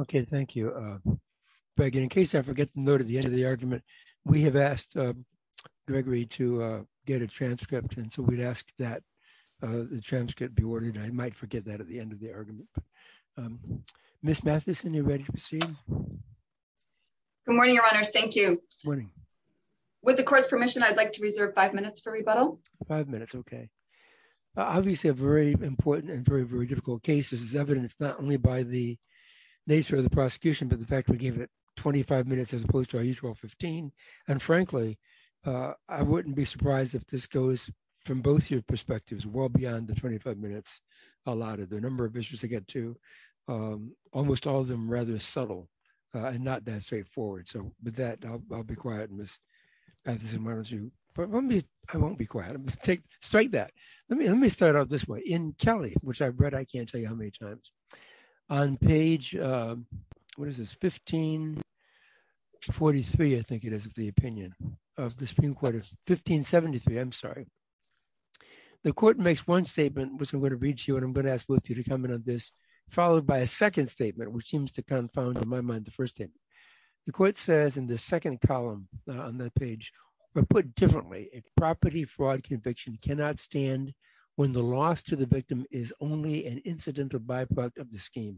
Okay, thank you. In case I forget to note at the end of the argument, we have asked Gregory to get a transcript, and so we'd ask that the transcript be ordered. I might forget that at the end of the argument. Ms. Matheson, you're ready to proceed? Good morning, Your Honor. Thank you. Good morning. With the Court's permission, I'd like to reserve five minutes for rebuttal. Five minutes, okay. Obviously, a very important and very, very difficult case is evidenced not by the nature of the prosecution, but the fact that we gave it 25 minutes as opposed to our usual 15. And frankly, I wouldn't be surprised if this goes from both your perspectives, well beyond the 25 minutes allotted. There are a number of issues to get to, almost all of them rather subtle and not that straightforward. So with that, I'll be quiet. I won't be quiet. Let me start out this way. In Kelly, which I've read, I can't tell you how many times, on page, what is this? 1543, I think it is the opinion of the Supreme Court of 1573. I'm sorry. The Court makes one statement, which I'm going to read to you, and I'm going to ask both of you to comment on this, followed by a second statement, which seems to confound in my mind the first thing. The Court says in the second column on the page, or put differently, if property fraud conviction cannot stand when the loss to the victim is only an incidental byproduct of the scheme.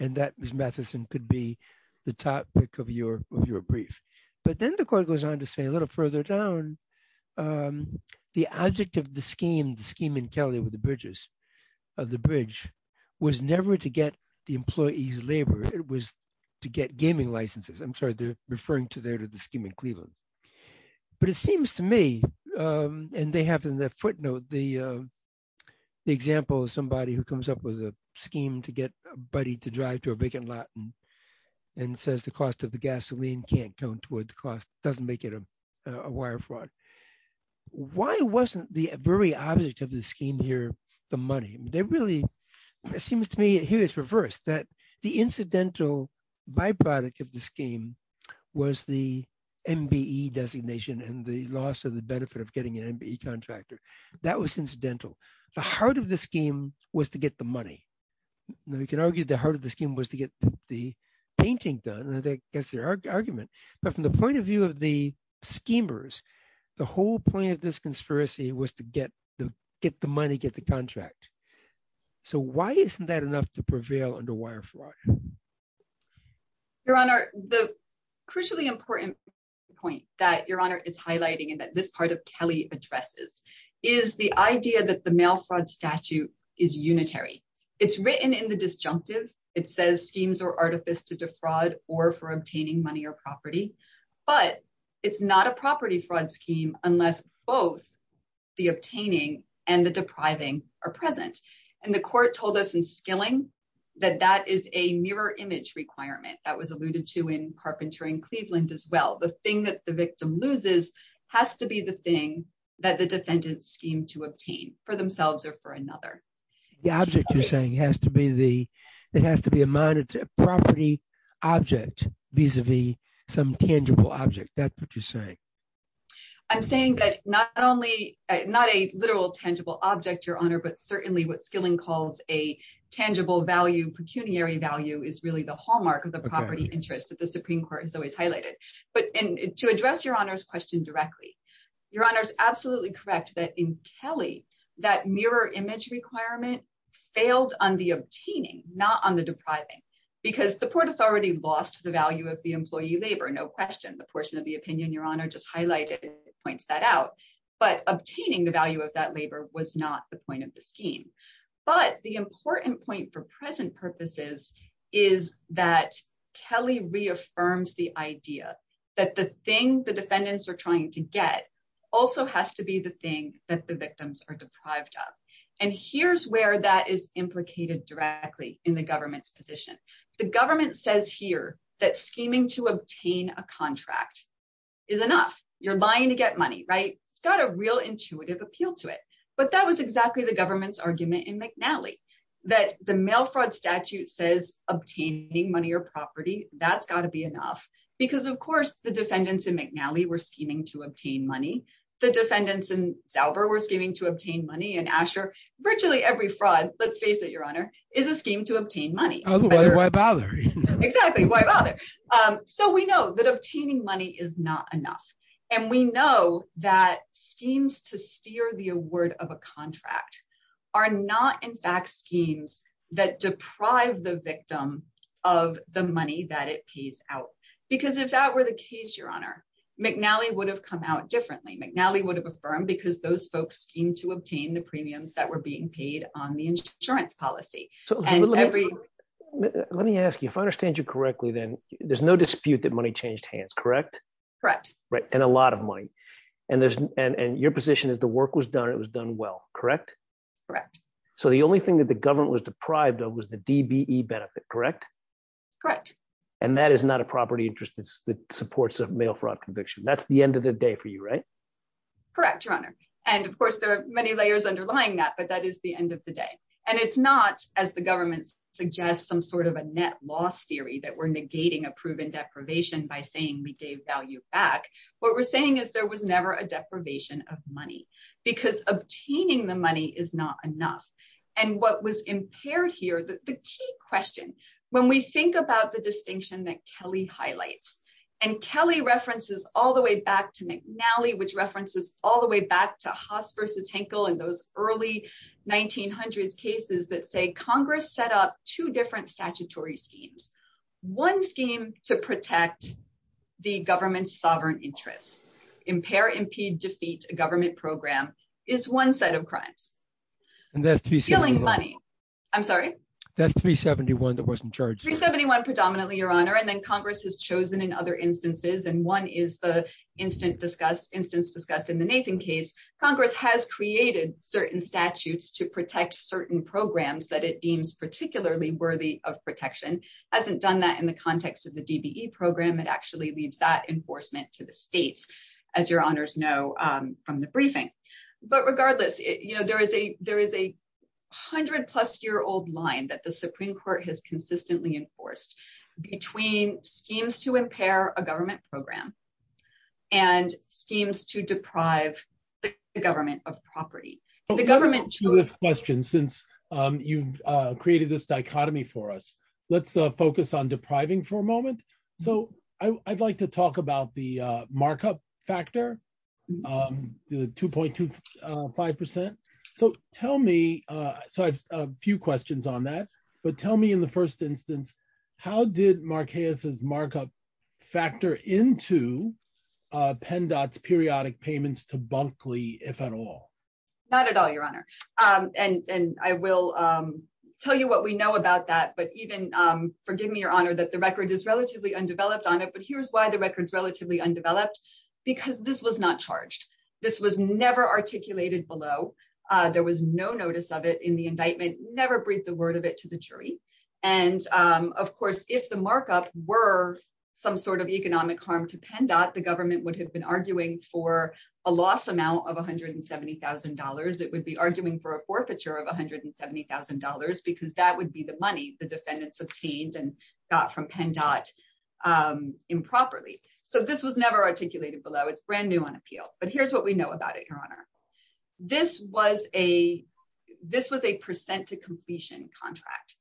And that, Ms. Mathison, could be the topic of your brief. But then the Court goes on to say a little further down, the object of the scheme, the scheme in Kelly with the bridges, of the bridge was never to get the employees' labor. It was to get gaming licenses. I'm sorry, they're referring there to the scheme in Cleveland. But it seems to me, and they have in their footnote the example of somebody who comes up with a scheme to get a buddy to drive to a brick-and-morton and says the cost of the gasoline can't count toward the cost, doesn't make it a wire fraud. Why wasn't the very object of the scheme here the money? They really, it seems to me, here it's reversed, that the incidental byproduct of the scheme was the MBE designation and the loss of the benefit of getting an MBE contractor. That was incidental. The heart of the scheme was to get the money. We can argue the heart of the scheme was to get the painting done, and I think that's the argument. But from the point of view of the schemers, the whole point of this conspiracy was to get the money, get the contract. So why isn't that enough to prevail under wire fraud? Your Honor, the crucially important point that Your Honor is highlighting and that this part of Kelly addresses is the idea that the mail fraud statute is unitary. It's written in the disjunctive. It says schemes or artifice to defraud or for obtaining money or the obtaining and the depriving are present. And the court told us in Skilling that that is a mirror image requirement that was alluded to in Carpenter and Cleveland as well. The thing that the victim loses has to be the thing that the defendants scheme to obtain for themselves or for another. The object you're saying has to be the, it has to be a minor property object vis-a-vis some tangible object. That's what you're saying. I'm saying that not only, not a literal tangible object, Your Honor, but certainly what Skilling calls a tangible value, pecuniary value is really the hallmark of the property interest that the Supreme Court has always highlighted. But to address Your Honor's question directly, Your Honor is absolutely correct that in Kelly, that mirror image requirement failed on the obtaining, not on the depriving, because the court has already lost the value of the employee labor, no question. The portion of the opinion Your Honor just highlighted points that out. But obtaining the value of that labor was not the point of the scheme. But the important point for present purposes is that Kelly reaffirmed the idea that the thing the defendants are trying to get also has to be the thing that the victims are deprived of. And here's where that is implicated directly in the government's position. The that scheming to obtain a contract is enough. You're buying to get money, right? It's got a real intuitive appeal to it. But that was exactly the government's argument in McNally that the mail fraud statute says obtaining money or property, that's got to be enough. Because of course the defendants in McNally were scheming to obtain money. The defendants in Dauber were scheming to obtain money. And Asher, virtually every fraud, let's face it Your Honor, is a scheme to obtain so we know that obtaining money is not enough. And we know that schemes to steer the award of a contract are not in fact schemes that deprive the victim of the money that it pays out. Because if that were the case, Your Honor, McNally would have come out differently. McNally would have affirmed because those folks seem to obtain the premiums that were being paid on the insurance policy. Let me ask you, if I understand you correctly, then there's no dispute that money changed hands, correct? Correct. And a lot of money. And your position is the work was done, it was done well, correct? Correct. So the only thing that the government was deprived of was the DBE benefit, correct? Correct. And that is not a property interest that supports a mail fraud conviction. That's the end of the day for you, right? Correct, Your Honor. And of course, there are many layers underlying that, but that is the end of the day. And it's not as the government suggests some sort of a net loss theory that we're negating a proven deprivation by saying we gave value back. What we're saying is there was never a deprivation of money, because obtaining the money is not enough. And what was impaired here, the key question, when we think about the distinction that Kelly highlights, and Kelly references all the way back to McNally, which in those early 1900s cases that say Congress set up two different statutory schemes. One scheme to protect the government's sovereign interest, impair, impede, defeat a government program is one set of crimes. And that's 371. I'm sorry? That's 371 that wasn't charged. 371 predominantly, Your Honor. And then Congress has chosen in other instances, and one is the instance discussed in Nathan case, Congress has created certain statutes to protect certain programs that it deems particularly worthy of protection, hasn't done that in the context of the DBE program, it actually leaves that enforcement to the state, as Your Honors know, from the briefing. But regardless, you know, there is a there is a hundred plus year old line that the Supreme Court has consistently enforced between schemes to impair a government program and schemes to deprive the government of property. The government- To this question, since you've created this dichotomy for us, let's focus on depriving for a moment. So I'd like to talk about the markup factor, the 2.25%. So tell me, so I have a few questions on that. But tell me in the first instance, how did Marquez's markup factor into PennDOT's periodic payments to Bunkley, if at all? Not at all, Your Honor. And I will tell you what we know about that. But even, forgive me, Your Honor, that the record is relatively undeveloped on it. But here's why the record is relatively undeveloped. Because this was not charged. This was never articulated below. There was no notice of it in the indictment, never breathed the word of it to the jury. And of course, if the markup were some sort of economic harm to PennDOT, the government would have been arguing for a loss amount of $170,000. It would be arguing for a forfeiture of $170,000, because that would be the money the defendants obtained and got from PennDOT improperly. So this was never articulated below. It's brand new on appeal. But here's what we know about it, Your Honor. This was a, this was a percent to completion contract.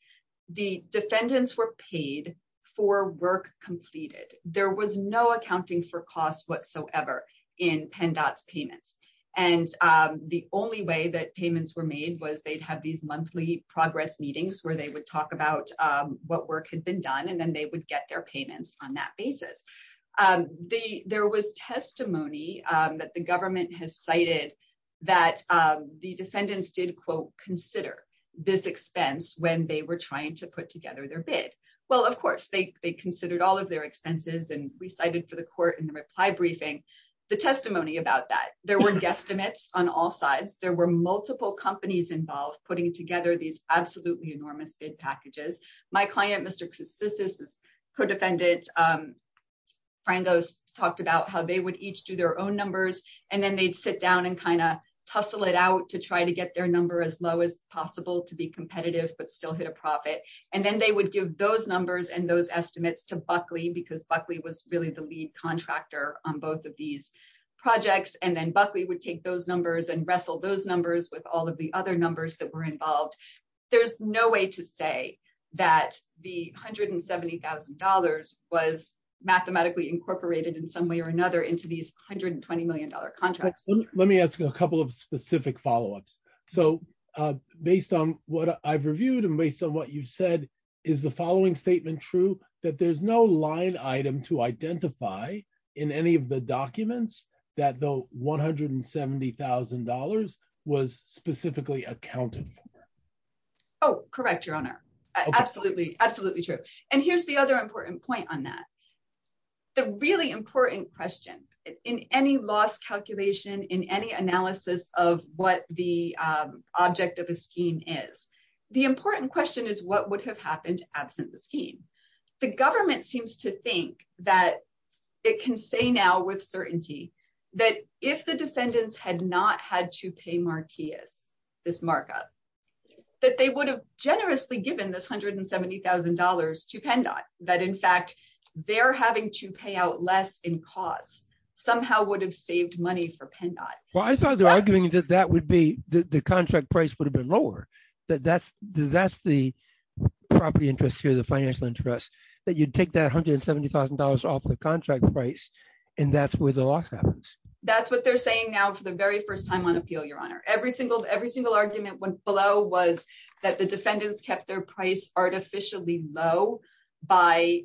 The defendants were paid for work completed. There was no accounting for costs whatsoever in PennDOT's payments. And the only way that payments were made was they'd have these monthly progress meetings where they would talk about what work had been done, and then they would get their payments on that basis. There was testimony that the government has cited that the defendants did, quote, consider this expense when they were trying to put together their bid. Well, of course, they considered all of their expenses, and we cited for the court in the reply briefing, the testimony about that. There were guesstimates on all sides. There were multiple companies involved putting together these absolutely enormous bid packages. My client, Mr. Custis, co-defendant, Frandos, talked about how they would each do their own numbers, and then they'd sit down and kind of tussle it out to try to get their number as low as possible to be competitive, but still hit a profit. And then they would give those numbers and those estimates to Buckley, because Buckley was really the lead contractor on both of these projects. And then Buckley would take those numbers and wrestle those numbers with all of the other numbers that were involved. There's no way to say that the $170,000 was mathematically incorporated in some way or another into these $120 million contracts. Let me ask you a couple of specific follow-ups. So based on what I've reviewed and based on what you said, is the following statement true, that there's no line item to identify in any of the documents that the $170,000 was specifically accounted for? Oh, correct, Your Honor. Absolutely. Absolutely true. And here's the other important point on that. The really important question in any loss calculation, in any analysis of what the object of a scheme is, the important question is what would have happened to absence of scheme? The government seems to think that it can say now with certainty that if the defendants had not had to pay Marquez this markup, that they would have generously given this $170,000 to PennDOT, that in fact, they're having to pay out less in cost somehow would have saved money for PennDOT. Well, I thought they were arguing that the contract price would have been lower, that that's the property interest here, the financial interest, that you'd take that $170,000 off the contract price and that's where the loss happens. That's what they're saying now for the very first time on appeal, Your Honor. Every single argument below was that the defendants kept their price artificially low by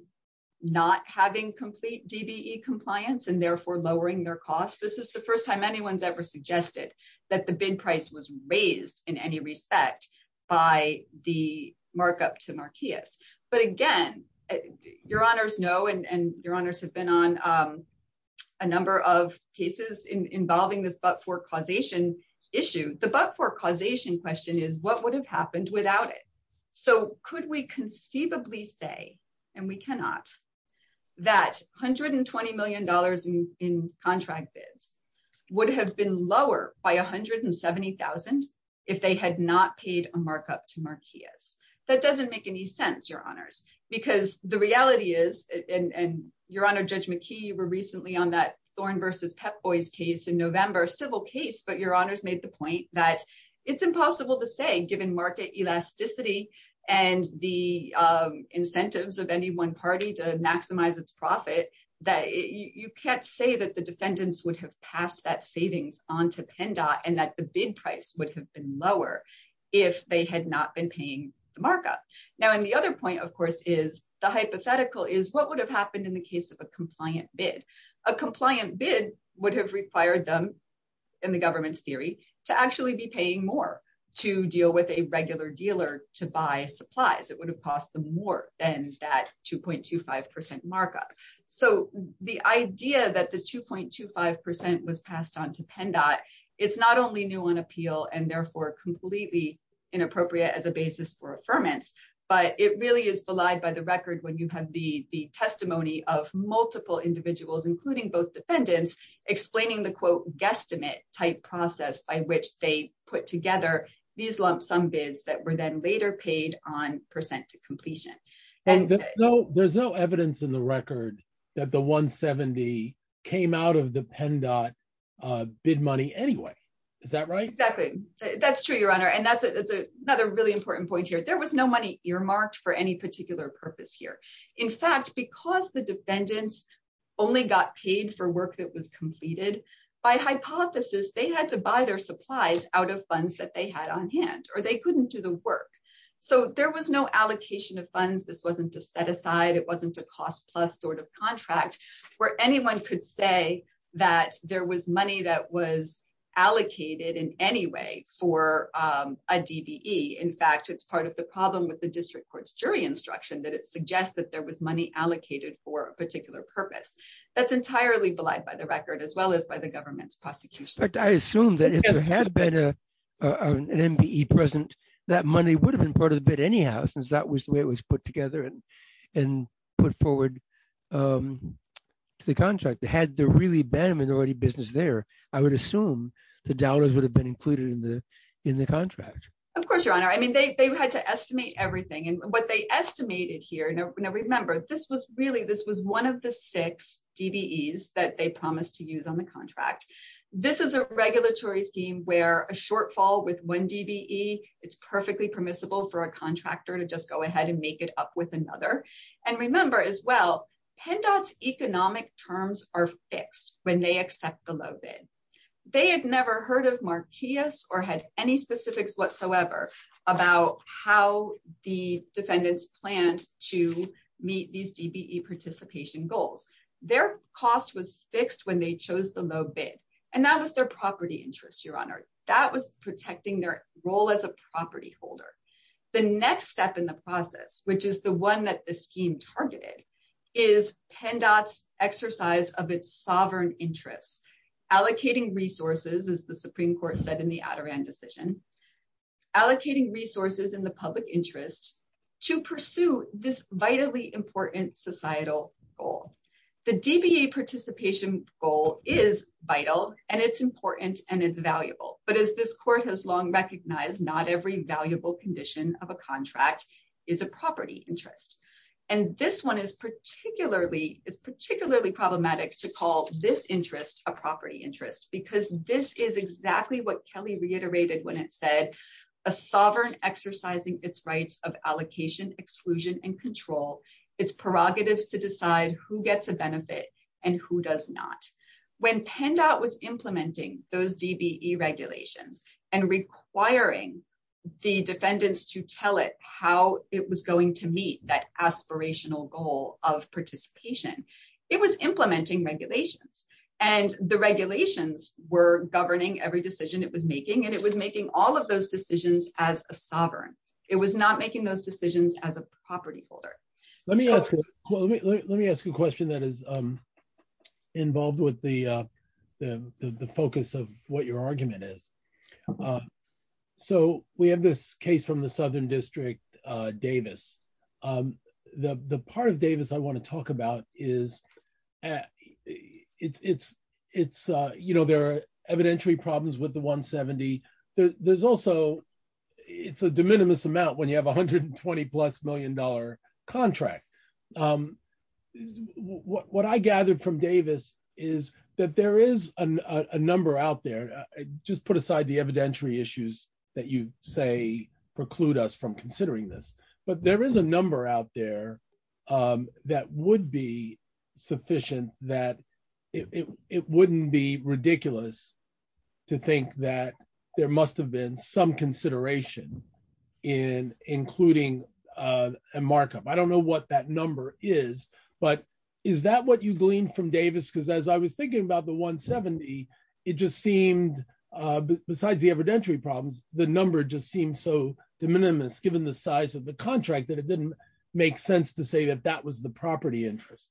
not having complete DBE compliance and therefore lowering their costs. This is the first time anyone's ever suggested that the bid price was raised in any respect by the markup to Marquez. But again, Your Honors know and Your Honors have been on a number of cases involving this but-for-causation issue. The but-for-causation question is what would have happened without it? So could we conceivably say, and we cannot, that $120 million in contract bids would have been lower by $170,000 if they had not paid a markup to Marquez? That doesn't make any sense, Your Honors, because the reality is, and Your Honor, Judge McKee, you were recently on that Thorne versus Pep Boys case in November, a civil case, but Your Honors made the point that it's impossible to say given market elasticity and the incentives of any one party to maximize its profit that you can't say that the defendants would have passed that savings on to PennDOT and that the bid price would have been lower if they had not been paying the markup. Now, and the other point, of course, is the hypothetical is what would have happened in the case of a compliant bid? A compliant bid would have required them, in the government's theory, to actually be paying more to deal with a regular dealer to buy supplies. It would have cost them more than that 2.25 percent markup. So the idea that the 2.25 percent was passed on to PennDOT, it's not only new on appeal and therefore completely inappropriate as a basis for affirmance, but it really is belied by the record when you have the testimony of multiple individuals, including both defendants, explaining the, quote, guesstimate type process by which they put together these lump sum bids that were then later paid on percent to completion. And there's no evidence in the record that the 170 came out of the PennDOT bid money anyway. Is that right? Exactly. That's true, Your Honor. And that's another really important point here. There was no money earmarked for any purpose here. In fact, because the defendants only got paid for work that was completed, by hypothesis, they had to buy their supplies out of funds that they had on hand, or they couldn't do the work. So there was no allocation of funds. This wasn't a set-aside. It wasn't a cost-plus sort of contract where anyone could say that there was money that was allocated in any way for a DBE. In fact, it's part of the problem with the district court's jury instruction that it suggests that there was money allocated for a particular purpose. That's entirely belied by the record, as well as by the government's prosecution. In fact, I assume that if there had been an MBE present, that money would have been part of the bid anyhow, since that was the way it was put together and put forward to the contract. Had there really been a minority business there, I would assume the dollars would have been included in the contract. Of course, Your Honor. I mean, they had to estimate everything. And what they estimated here, now remember, this was really, this was one of the six DBEs that they promised to use on the contract. This is a regulatory scheme where a shortfall with one DBE is perfectly permissible for a contractor to just go ahead and make it up with another. And remember as well, PennDOT's economic terms are fixed when they accept the low bid. They had never heard of Marquise or had any specifics whatsoever about how the defendants planned to meet these DBE participation goals. Their cost was fixed when they chose the low bid. And that was their property interest, Your Honor. That was protecting their role as a property holder. The next step in the targeted is PennDOT's exercise of its sovereign interest, allocating resources, as the Supreme Court said in the Adirondack decision, allocating resources in the public interest to pursue this vitally important societal goal. The DBE participation goal is vital and it's important and it's valuable. But as this Court has long recognized, not every valuable condition of a this one is particularly, it's particularly problematic to call this interest a property interest because this is exactly what Kelly reiterated when it said, a sovereign exercising its rights of allocation, exclusion, and control, its prerogatives to decide who gets a benefit and who does not. When PennDOT was implementing those DBE regulations and requiring the defendants to tell it how it was going to meet that aspirational goal of participation, it was implementing regulations. And the regulations were governing every decision it was making, and it was making all of those decisions as a sovereign. It was not making those decisions as a property holder. Let me ask you a question that is involved with the focus of what your district, Davis. The part of Davis I want to talk about is, it's, you know, there are evidentiary problems with the 170. There's also, it's a de minimis amount when you have 120 plus million dollar contract. What I gathered from Davis is that there is a number out there, just put aside the evidentiary issues that you say preclude us from considering this, but there is a number out there that would be sufficient that it wouldn't be ridiculous to think that there must have been some consideration in including a markup. I don't know what that number is, but is that what you gleaned from Davis? Because as I was thinking about the 170, it just seemed, besides the evidentiary problems, the number just seemed so de minimis given the size of the contract that it didn't make sense to say that that was the property interest.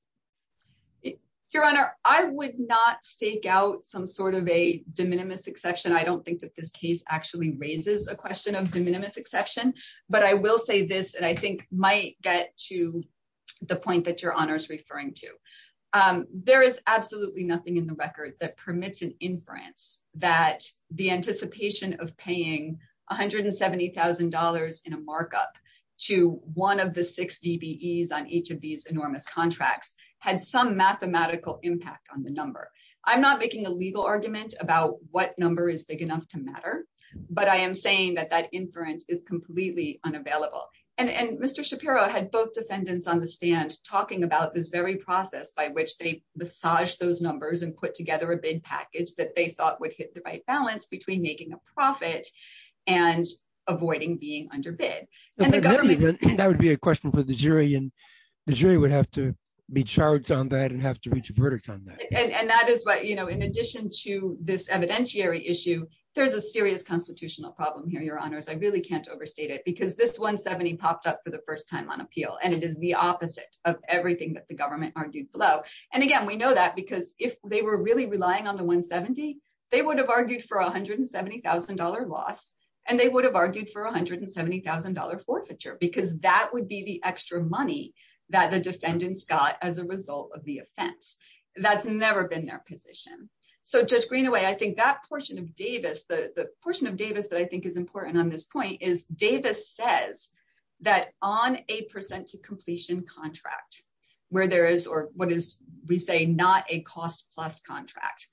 Your Honor, I would not stake out some sort of a de minimis exception. I don't think that this case actually raises a question of de minimis exception, but I will say this, and I think might get to the point that Your Honor is referring to. There is absolutely nothing in the record that permits an inference that the anticipation of paying $170,000 in a markup to one of the six DBEs on each of these enormous contracts had some mathematical impact on the number. I'm not making a legal argument about what number is big enough to matter, but I am saying that that inference is completely unavailable. And Mr. Shapiro had both defendants on the stand talking about this very process by which they massaged those numbers and put together a bid package that they thought would hit the right balance between making a profit and avoiding being underbid. That would be a question for the jury, and the jury would have to be charged on that and have to reach a verdict on that. And that is what, you know, in addition to this evidentiary issue, there's a serious constitutional problem here, Your Honors. I really can't overstate it because this $170,000 popped up for the first time on appeal, and it is the opposite of everything that the government argued below. And again, we know that because if they were really relying on the $170,000, they would have argued for a $170,000 loss, and they would have argued for a $170,000 forfeiture because that would be the extra money that the defendants got as a result of the offense. That's never been their position. So just green away, I think that portion of Davis, the portion of Davis that I think is important on this point is Davis says that on a percent to completion contract where there is, or what is we say not a cost plus contract,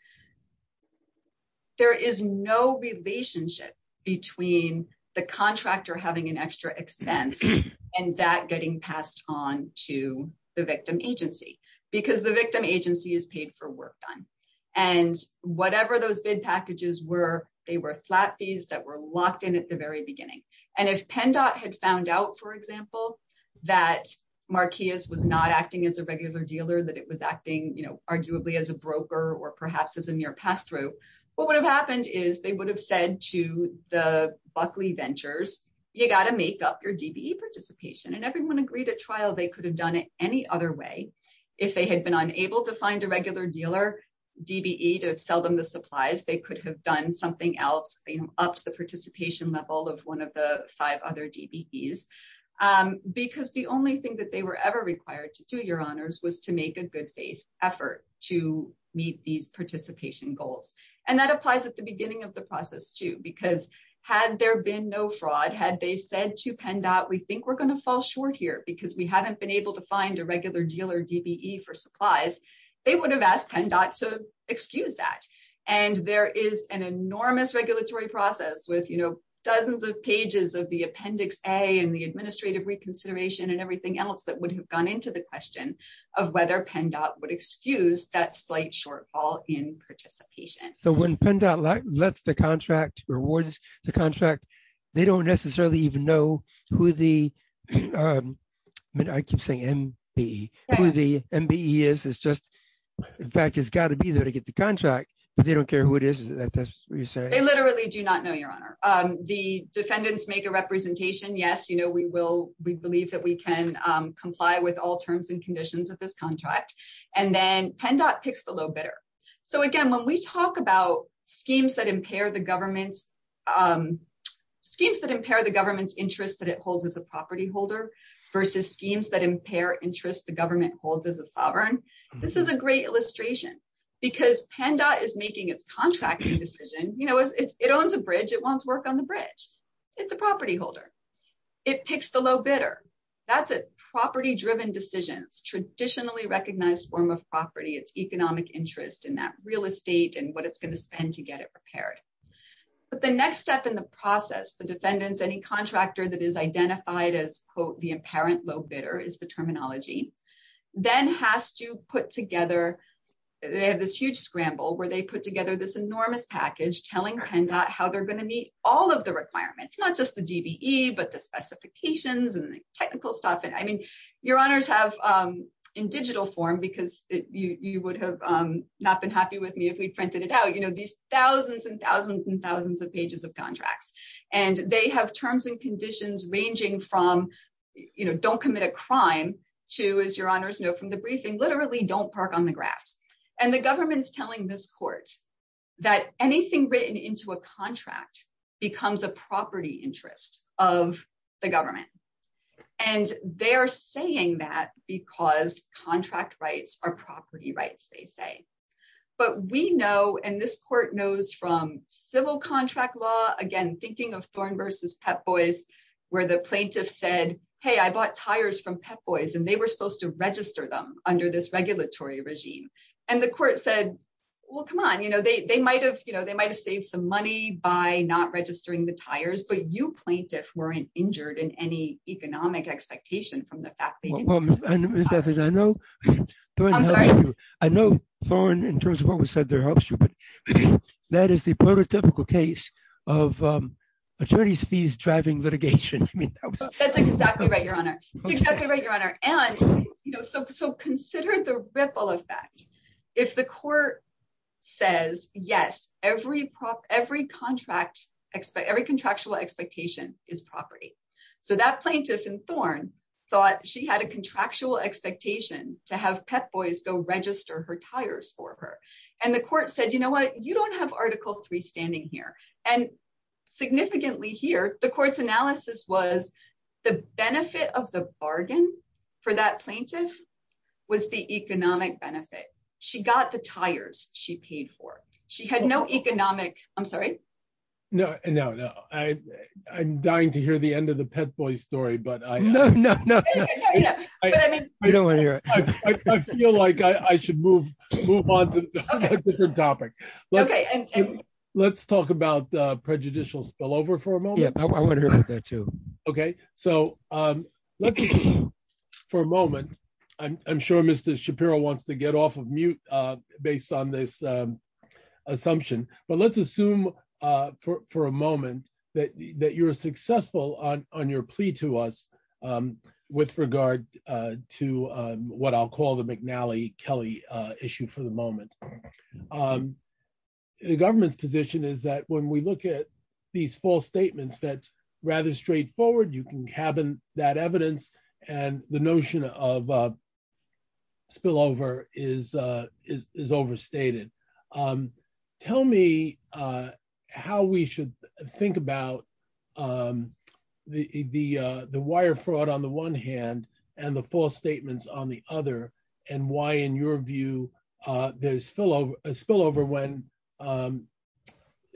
there is no relationship between the contractor having an extra expense and that getting passed on to the victim agency because the victim agency is paid for work done. And whatever those bid packages were, they were flat fees that were locked in at the very beginning. And if PennDOT had found out, for example, that Marqueas was not acting as a regular dealer, that it was acting arguably as a broker or perhaps as a near pass-through, what would have happened is they would have said to the Buckley Ventures, you got to make up your DBE participation. And everyone agreed at trial they could have done it any other way. If they had been unable to find a regular dealer DBE to sell them the supplies, they could have done something else, ups the participation level of one of the five other DBEs because the only thing that they were ever required to do, your honors, was to make a good faith effort to meet these participation goals. And that applies at the beginning of the process too, because had there been no fraud, had they said to PennDOT, we think we're going to fall short here because we haven't been able to find a regular dealer DBE for PennDOT to excuse that. And there is an enormous regulatory process with, you know, dozens of pages of the Appendix A and the administrative reconsideration and everything else that would have gone into the question of whether PennDOT would excuse that slight shortfall in participation. So when PennDOT lets the contract, rewards the contract, they don't necessarily even who the, I keep saying MBE, who the MBE is, it's just, in fact, it's got to be there to get the contract, but they don't care who it is. They literally do not know, your honor. The defendants make a representation, yes, you know, we believe that we can comply with all terms and conditions of this contract. And then PennDOT picks the low bidder. So again, when we talk about schemes that impair the government's interest that it holds as a property holder versus schemes that impair interest the government holds as a sovereign, this is a great illustration because PennDOT is making its contracting decision. You know, it owns a bridge. It wants to work on the bridge. It's a property holder. It picks the low bidder. That's a property-driven decision, traditionally recognized form of property, its economic interest in that real estate and what it's going to spend to get it repaired. But the next step in the process, the defendants, any contractor that is identified as, quote, the apparent low bidder is the terminology, then has to put together, they have this huge scramble where they put together this enormous package telling PennDOT how they're going to meet all of the requirements, not just the DBE, but the specifications and technical stuff. And I mean, your honors have, in digital form, because you would have not been happy with me if we printed it out, you know, these thousands and thousands and thousands of pages of contracts. And they have terms and conditions ranging from, you know, don't commit a crime to, as your honors know from the briefing, literally don't park on the grass. And the government's telling this court that anything written into a contract becomes a property interest of the government. And they're saying that because contract rights are property rights, they say. But we know, and this court knows from civil contract law, again, thinking of Thorn versus Pep Boys, where the plaintiff said, hey, I bought tires from Pep Boys, and they were supposed to register them under this regulatory regime. And the court said, well, come on, you know, they might have, you know, they might have saved some money by not registering the tires, but you plaintiffs weren't injured in any economic expectation from the fact that you bought them. I know Thorn, in terms of what was said there, helps you, but that is the prototypical case of attorneys fees driving litigation. That's exactly right, your honor. And, you know, so consider the ripple effect. If the court says, yes, every contract, every contractual expectation is property. So that plaintiff in Thorn thought she had a contractual expectation to have Pep Boys go register her tires for her. And the court said, you know what, you don't have Article 3 standing here. And significantly here, the court's analysis was the benefit of the bargain for that plaintiff was the economic benefit. She got the tires she paid for. She had no economic, I'm sorry? No, no, no. I'm dying to hear the end of the Pep Boys story, but I feel like I should move on to the topic. Let's talk about prejudicial spillover for a moment. Yeah, I want to hear that too. Okay, so for a moment, I'm sure Mr. Shapiro wants to get off of mute based on this assumption, but let's assume for a moment that you were successful on your plea to us with regard to what I'll call the McNally-Kelly issue for the moment. The government's position is that when we look at these false statements, that's rather straightforward. You can have that evidence and the notion of spillover is overstated. Tell me how we should think about the wire fraud on the one hand and the false statements on the other and why in your view there's spillover when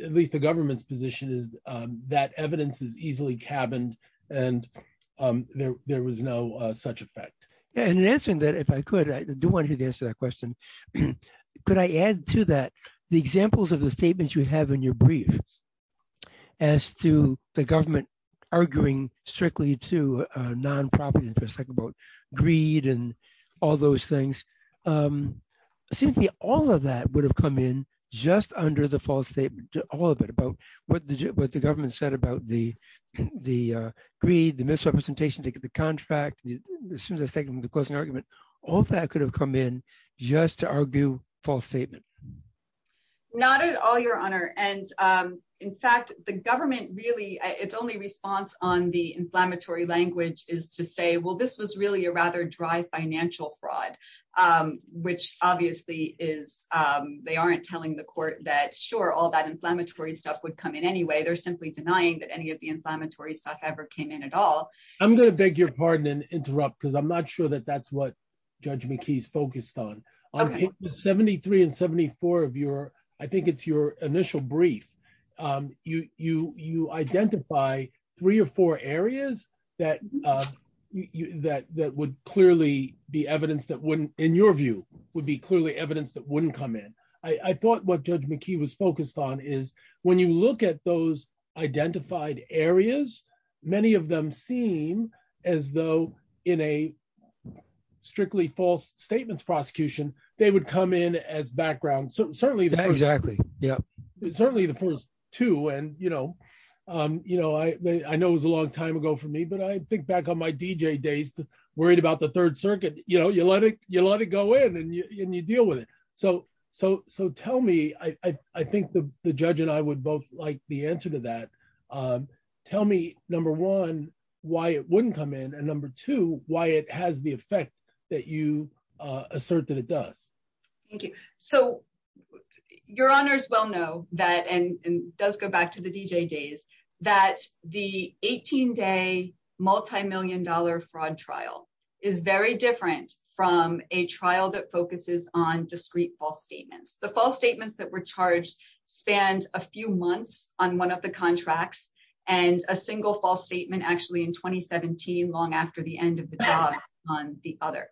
at least the government's position is that evidence is easily cabined and there was no such effect. And in answering that, if I could, I do want to hear the answer to that question. Could I add to that the examples of the statements you have in your brief as to the government arguing strictly to non-profit interests like about greed and all those things? Simply all of that would have come in just under the false statement, all of it, about what the government said about the greed, the misrepresentation, the contract, the question and argument. All of that could have come in just to argue false statements. Not at all, Your Honor. And in fact, the government really, its only response on the inflammatory language is to say, well, this was really a rather dry financial fraud, which obviously they aren't telling the court that, sure, all that inflammatory stuff would come in anyway. They're simply denying that any of the inflammatory stuff ever came in at all. I'm going to beg your pardon and interrupt because I'm not sure that that's what Judge McKee's focused on. On pages 73 and 74 of your, I think it's your initial brief, you identify three or four areas that would clearly be evidence that wouldn't, in your view, would be clearly evidence that wouldn't come in. I thought what Judge McKee was focused on is when you look at those identified areas, many of them seem as though in a strictly false statements prosecution, they would come in as background. Certainly the first two. I know it was a long time ago for me, but I think back on my DJ days, worried about the third circuit, you know, you let it go in and you deal with it. So tell me, I think the judge and I would both like the answer to that. Tell me, number one, why it wouldn't come in and number two, why it has the effect that you assert that it does. Thank you. So your honors well know that, and let's go back to the DJ days, that the 18-day multimillion-dollar fraud trial is very different from a trial that focuses on discrete false statements. The false statements that were charged spanned a few months on one of the contracts and a single false statement actually in 2017, long after the end of the trial on the other.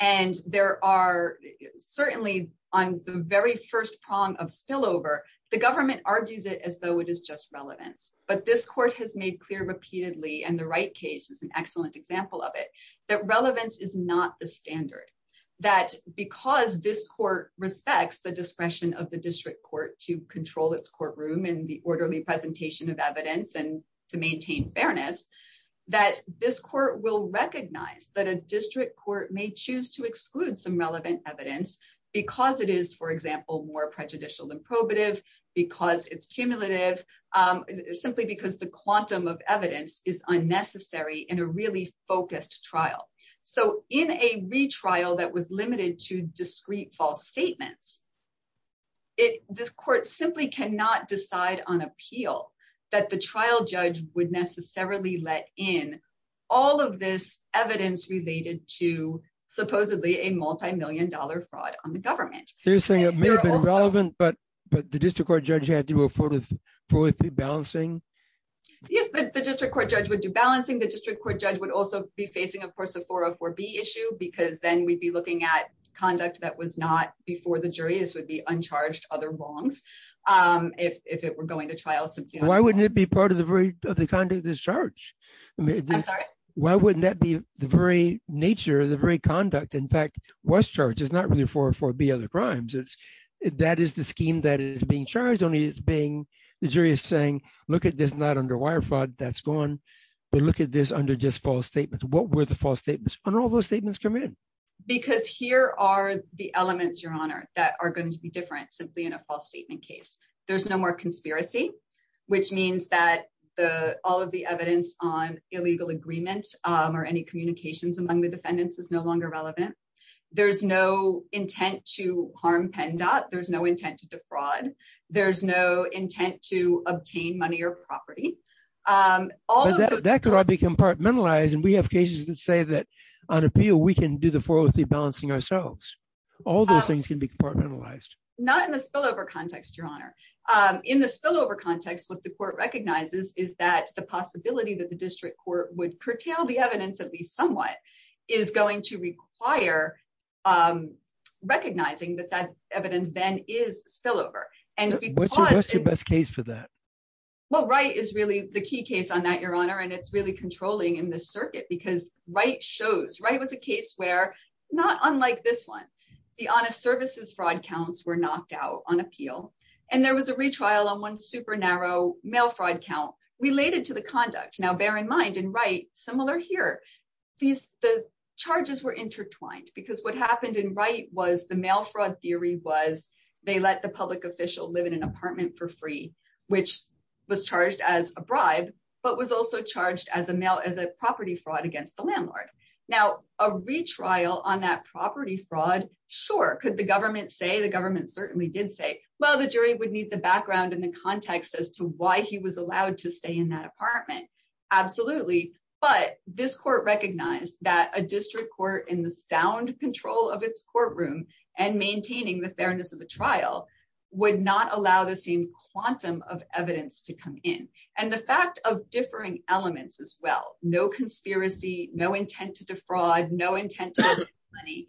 And there are certainly on the very first prong of spillover, the government argues it as though it is just relevant. But this court has made clear repeatedly, and the Wright case is an excellent example of it, that relevance is not the standard. That because this court respects the discretion of the district court to control its courtroom and the orderly presentation of evidence and to maintain fairness, that this court will recognize that a district court may choose to exclude some relevant evidence because it is, for example, more prejudicial than probative, because it's cumulative, simply because the quantum of evidence is unnecessary in a really focused trial. So in a retrial that was limited to discrete false statements, this court simply cannot decide on appeal that the trial judge would necessarily let in all of this evidence related to supposedly a multimillion-dollar fraud on the government. So you're saying it may have been relevant, but the district court judge had to do a full balancing? Yes, but the district court judge would do balancing. The district court judge would also be facing, of course, a 404B issue because then we'd be looking at conduct that was not before the jury. This would be uncharged other wrongs if it were going to trial. Why wouldn't it be part of the very conduct of this charge? Why wouldn't that be the very conduct? In fact, what's charged is not really 404B other crimes. That is the scheme that is being charged, only the jury is saying, look at this, not under wire fraud, that's gone, but look at this under just false statements. What were the false statements? And all those statements come in. Because here are the elements, Your Honor, that are going to be different simply in a false statement case. There's no more conspiracy, which means that all of the evidence on illegal agreement or any communications among the defendants is no longer relevant. There's no intent to harm PennDOT. There's no intent to defraud. There's no intent to obtain money or property. That could all be compartmentalized and we have cases that say that on appeal we can do the 403 balancing ourselves. All those things can be compartmentalized. Not in the spillover context, Your Honor. In the spillover context, what the court recognizes is that the possibility that the district court would curtail the evidence at least somewhat is going to require recognizing that that evidence then is spillover. What's your best case for that? Well, Wright is really the key case on that, Your Honor, and it's really controlling in this circuit because Wright shows. Wright was a case where, not unlike this one, the honest services fraud counts were knocked out on appeal and there was a retrial on one super narrow mail fraud count related to the conduct. Now, bear in mind in Wright, similar here, the charges were intertwined because what happened in Wright was the mail fraud theory was they let the public official live in an apartment for free, which was charged as a bribe, but was also charged as a property fraud against the landlord. Now, a retrial on that property fraud, sure, could the government say? The government certainly did say. Well, the jury would need the background and the context as to why he was allowed to stay in that apartment. Absolutely, but this court recognized that a district court in the sound control of its courtroom and maintaining the fairness of the trial would not allow the same quantum of evidence to come in. And the fact of differing elements as well, no conspiracy, no intent to defraud, no intent to make money,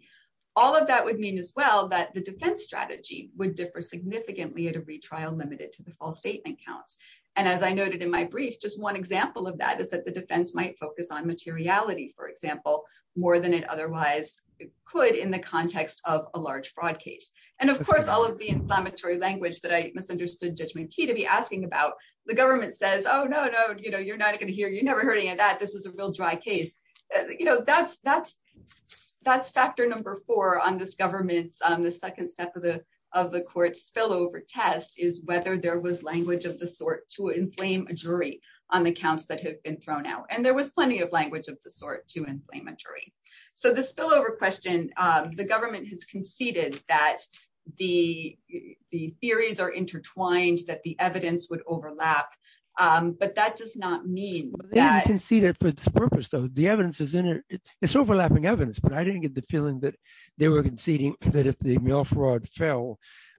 all of that would mean as well that the defense strategy would differ significantly at a retrial limited to the false statement count. And as I noted in my brief, just one example of that is that the defense might focus on materiality, for example, more than it otherwise could in the context of a large fraud case. And of course, all of the inflammatory language that I misunderstood Judgment Key to be asking about, the government says, oh, no, no, you know, you're not going to hear, you never heard any of that. This is a real dry case. You know, that's factor number four on this government's, the second step of the of the court's spillover test is whether there was language of the sort to inflame a jury on the counts that had been thrown out. And there was plenty of language of the sort to inflame a jury. So the spillover question, the government has conceded that the theories are intertwined, that the evidence would overlap, but that does not mean that. Yeah, I can see that for the purpose of the evidence is in it, it's overlapping evidence, but I didn't get the feeling that they were conceding that if the mail fraud fell,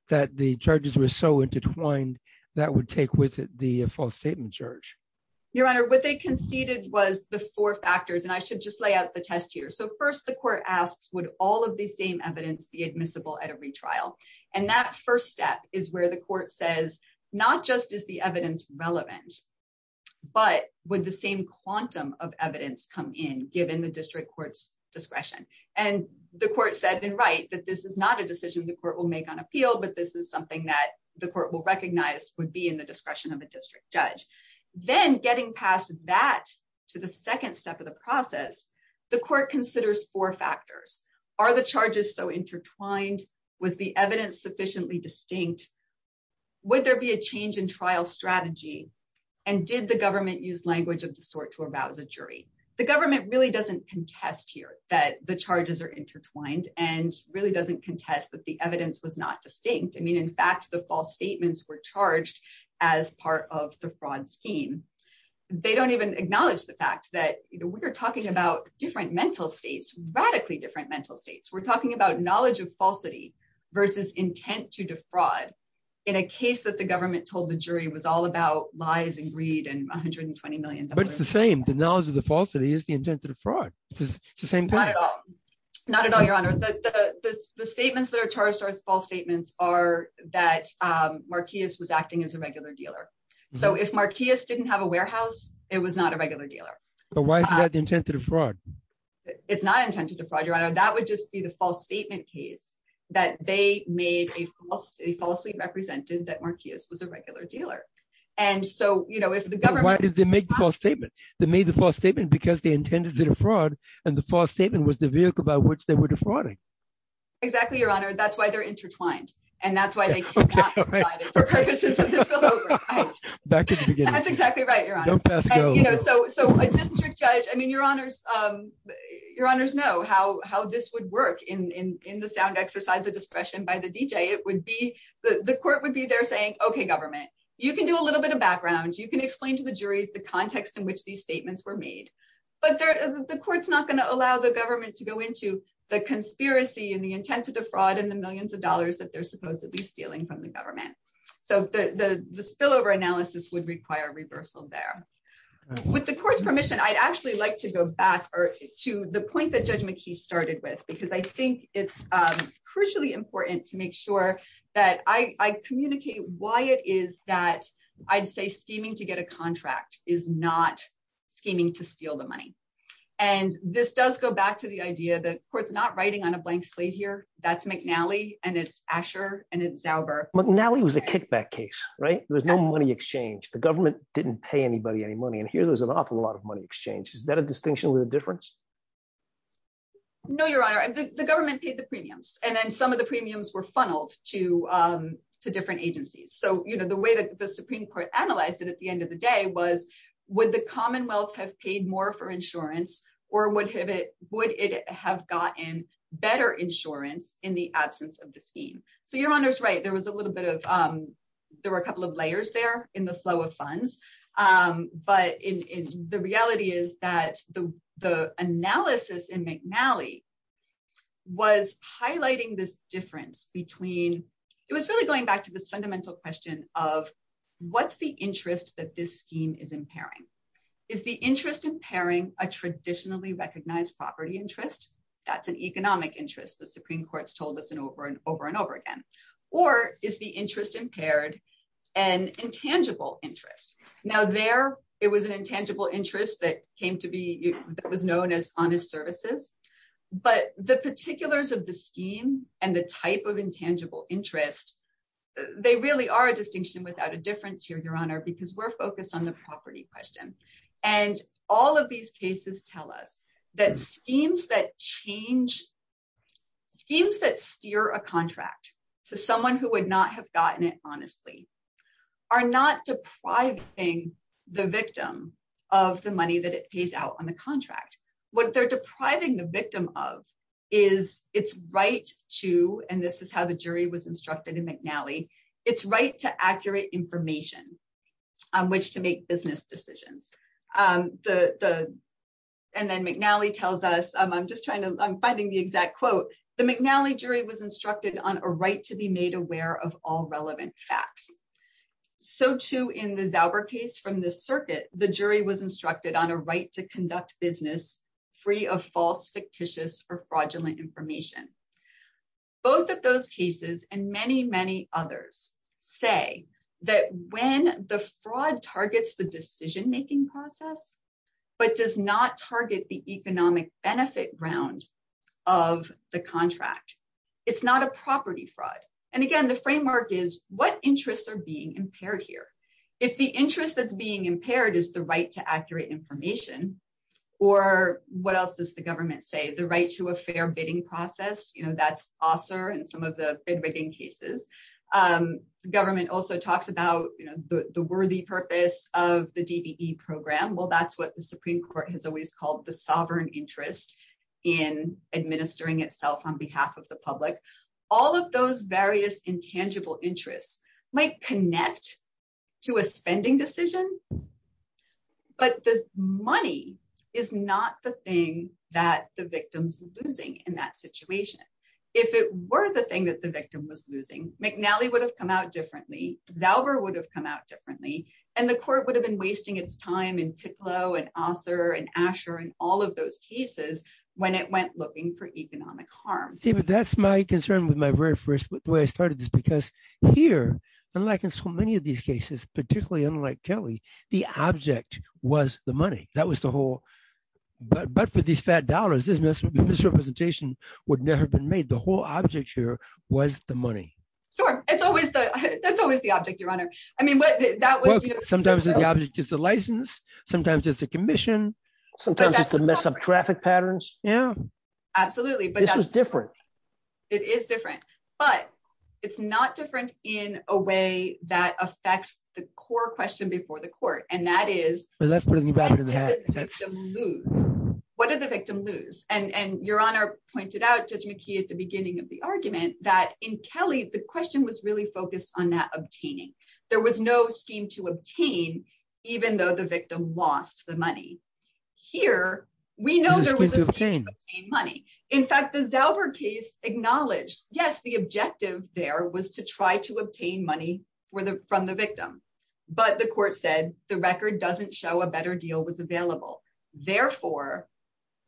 that the judges were so intertwined that would take with it the false statement charge. Your Honor, what they conceded was the four factors, and I should just lay out the test here. So first, the court asks, would all of the same evidence be admissible at a retrial? And that first step is where the court says, not just is the evidence relevant, but would the same quantum of evidence come in given the district court's discretion? And the court said then, right, that this is not a decision the court will make on appeal, but this is something that the court will recognize would be in the discretion of a district judge. Then getting past that to the second step of the process, the court considers four factors. Are the charges so intertwined? Was the evidence sufficiently distinct? Would there be a change in trial strategy? And did the government use language of the sort to avow the jury? The government really doesn't contest here that the charges are intertwined and really doesn't contest that the evidence was not distinct. I mean, in fact, the false statements were charged as part of the fraud scheme. They don't even acknowledge the fact that we're talking about different mental states, radically different mental states. We're talking about knowledge of falsity versus intent to defraud in a case that the government told the jury was all about lies and greed and $120 million. But it's the same. The knowledge of the falsity is the intent to defraud. It's the same thing. Not at all. Not at all, Your Honor. The statements that are charged as false statements are that Marquess was acting as a regular dealer. So if Marquess didn't have a warehouse, it was not a regular dealer. But why is that the intent to defraud? It's not intent to defraud, Your Honor. That would just be the false statement case that they falsely represented that Marquess was a regular dealer. And so if the government- Why did they make the false statement? They made the false statement because they intended to defraud, and the false statement was the vehicle by which they were defrauding. Exactly, Your Honor. That's why they're intertwined. And that's why they- Okay, all right. Back to the beginning. That's exactly right, Your Honor. Don't pass go. So a district judge- I mean, Your Honors know how this would work in the sound exercise of discretion by the DJ. The court would be there saying, okay, government, you can do a little bit of background. You can explain to the jury the context in which these statements were made. But the court's not going to allow the government to go into the conspiracy and the intent to defraud and the millions of dollars that they're supposedly stealing from the government. So the spillover analysis would require reversal there. With the court's permission, I'd actually like to go back to the point that Judge McKee started with, because I think it's crucially important to make sure that I communicate why it is that, I'd say, scheming to get a contract is not scheming to steal the money. And this does go back to the idea that the court's not writing on a blank slate here. That's McNally, and it's Asher, and it's Zauber. McNally was a kickback case, right? There was no money exchange. The government didn't pay anybody any money. And here, there's an awful lot of money exchange. Is that a distinction with a difference? No, Your Honor. The government paid the premiums, and then some of the premiums were funneled to different agencies. So the way that the Supreme Court analyzed it at the end of the day was, would the Commonwealth have paid more for insurance, or would it have gotten better insurance in the absence of the scheme? So Your Honor's right, there was a little bit of, there were a couple of layers there in the flow of funds. But the reality is that the analysis in McNally was highlighting this difference between, it was really going back to the fundamental question of, what's the interest that this scheme is impairing? Is the interest impairing a traditionally recognized property interest? That's an economic interest. The Supreme Court's told us over and over again. Or is the interest impaired an intangible interest? Now there, it was an intangible interest that was known as honest services. But the particulars of the scheme and the type of intangible interest, they really are a distinction without a difference here, Your Honor, because we're focused on the property question. And all of these cases tell us that schemes that change, schemes that steer a contract to someone who would not have gotten it honestly, are not depriving the victim of the money that it pays out on the contract. What they're depriving the victim of is its right to, and this is how the jury was instructed in McNally, its right to accurate information on which to make business decisions. And then McNally tells us, I'm just trying to, I'm finding the exact quote. The McNally jury was instructed on a right to be made aware of all relevant facts. So too in the Zauber case from the circuit, the jury was instructed on a right to conduct business free of false, fictitious, or fraudulent information. Both of those cases and many, many others say that when the fraud targets the decision-making process, but does not target the economic benefit round of the contract, it's not a property fraud. And again, the framework is what interests are being impaired here? If the interest that's being impaired is the right to accurate information, or what else does the government say? The right to a fair bidding process, that's also in some of the bid rigging cases. Government also talks about the worthy purpose of the DBE program. Well, that's what the Supreme Court has always called the sovereign interest in administering itself on behalf of the public. All of those various intangible interests might connect to a spending decision, but the money is not the thing that the victim's losing in that situation. If it were the thing that the victim was losing, McNally would have come out differently, Zauber would have come out differently, and the court would have been wasting its time in Titlow, and Osler, and Asher, and all of those cases when it went looking for economic harm. David, that's my concern with my very first, the way I started this, because here, unlike in so many of these cases, particularly unlike Kelly, the object was the money. But for these fat dollars, this representation would never have been made. The whole object here was the money. Sure. That's always the object, Your Honor. Sometimes the object is the license, sometimes it's a commission, sometimes it's a mess of traffic patterns. This is different. It is different, but it's not different in a way that affects the core question before the court, and that is, what did the victim lose? Your Honor pointed out, Judge McKee, at the beginning of the argument, that in Kelly, the question was really focused on that obtaining. There was no scheme to obtain, even though the victim lost the money. Here, we know there was a scheme to obtain money. In fact, the Zauber case acknowledged, yes, the objective there was to try to obtain money from the victim. But the court said, the record doesn't show a better deal was available. Therefore,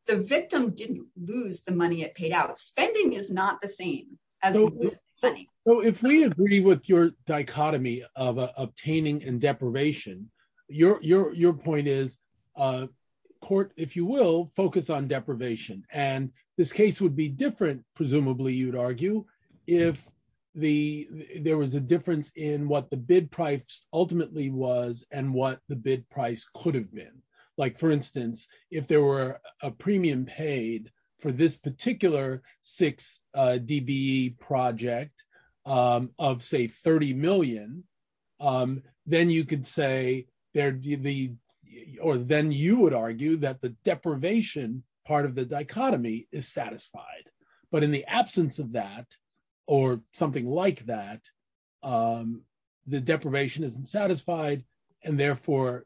the victim didn't lose the money it paid out. Spending is not the same. If we agree with your dichotomy of obtaining and deprivation, your point is, court, if you will, focus on deprivation. This case would be different, presumably, you would argue, if there was a difference in what the bid price ultimately was and what the bid price could have been. For instance, if there were a premium paid for this particular 6-DBE project of, say, $30 million, then you would argue that the deprivation part of the dichotomy is satisfied. But in the absence of that, or something like that, the deprivation isn't satisfied, and therefore,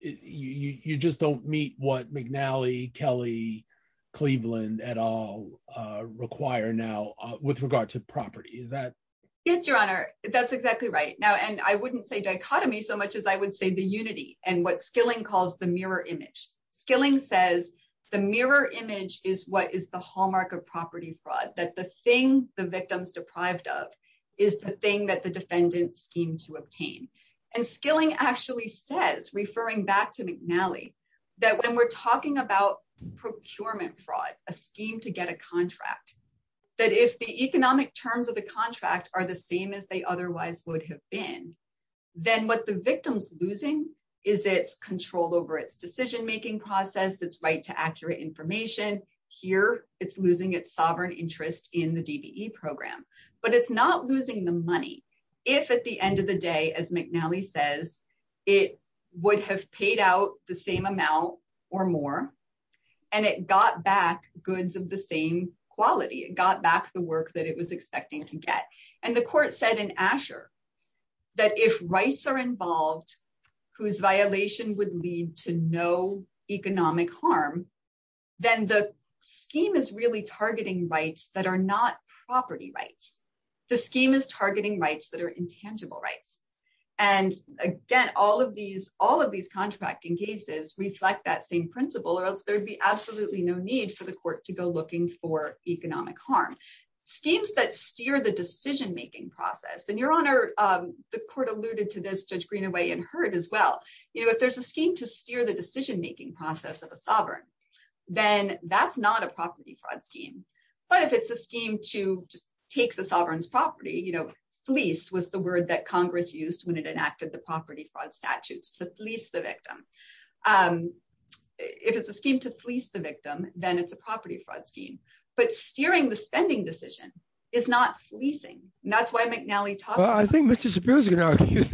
you just don't meet what McNally, Kelly, Cleveland, et al., require now with regard to property. Is that? Yes, Your Honor. That's exactly right. I wouldn't say dichotomy so much as I would say the unity and what Skilling calls the mirror image. Skilling says the mirror image is what is the hallmark of property fraud, that the thing the victim's deprived of is the thing that the defendant schemes to obtain. And Skilling actually says, referring back to McNally, that when we're talking about procurement fraud, a scheme to get a contract, that if the economic terms of the is it control over its decision-making process, its right to accurate information, here, it's losing its sovereign interest in the DBE program. But it's not losing the money if, at the end of the day, as McNally says, it would have paid out the same amount or more, and it got back goods of the same quality. It got back the work that it was expecting to get. And the court said in Asher that if rights are involved whose violation would lead to no economic harm, then the scheme is really targeting rights that are not property rights. The scheme is targeting rights that are intangible rights. And again, all of these contracting cases reflect that same principle or else there'd be absolutely no need for the court to go looking for economic harm. Schemes that steer the decision-making process, and Your Honor, the court alluded to this, Judge Greenaway, and heard as well. If there's a scheme to steer the decision-making process of a sovereign, then that's not a property fraud scheme. But if it's a scheme to take the sovereign's property, you know, fleece was the word that Congress used when it enacted the property fraud statutes to fleece the victim. If it's a scheme to fleece the victim, then it's a property fraud scheme. But steering the spending decision is not fleecing. And that's why McNally talked about it. Well, I think Mr. Sapir's going to argue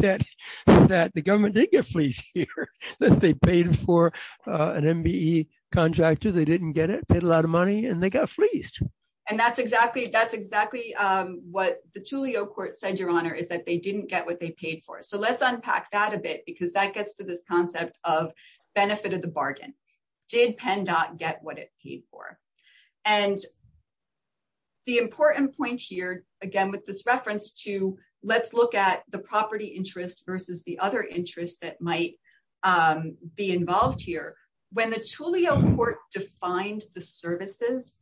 that the government did get fleeced here, that they paid for an MBE contract too. They didn't get it, paid a lot of money, and they got fleeced. And that's exactly what the Tulio court said, Your Honor, is that they didn't get what they paid for. So let's unpack that a bit because that gets to the concept of benefit of the bargain. Did PennDOT get what it paid for? And the important point here, again, with this reference to let's look at the property interest versus the other interest that might be involved here. When the Tulio court defined the services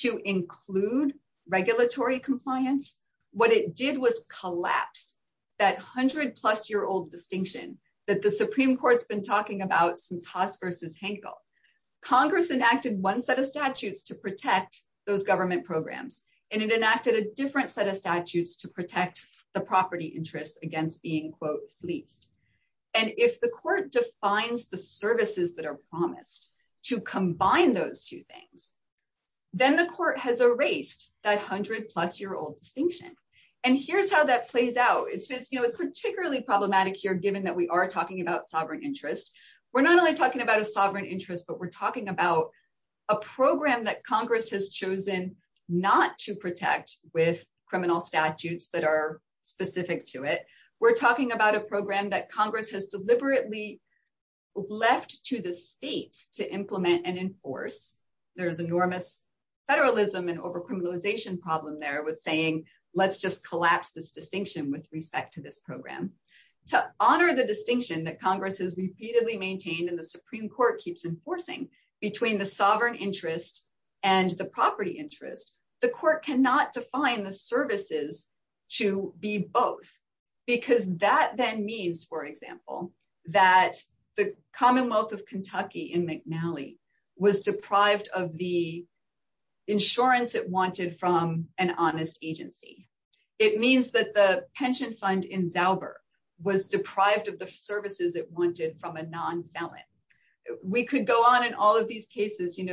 to include regulatory compliance, what it did was collapse that 100-plus-year-old distinction that the Supreme Court's been talking about since Haas versus Hankel. Congress enacted one set of statutes to protect those government programs, and it enacted a different set of statutes to protect the property interest against being, quote, fleeced. And if the court defines the services that are promised to combine those two things, then the court has erased that 100-plus-year-old distinction. And here's how that plays out. It's particularly problematic here, given that we are talking about sovereign interest. We're not only talking about a sovereign interest, but we're talking about a program that Congress has chosen not to protect with criminal statutes that are specific to it. We're talking about a program that Congress has deliberately left to the state to implement and enforce. There's enormous federalism and over-criminalization problem there with saying, let's just collapse this distinction with respect to this program. To honor the distinction that Congress has repeatedly maintained and the Supreme Court keeps enforcing between the sovereign interest and the property interest, the court cannot define the services to be both, because that then means, for example, that the Commonwealth of Kentucky in the case of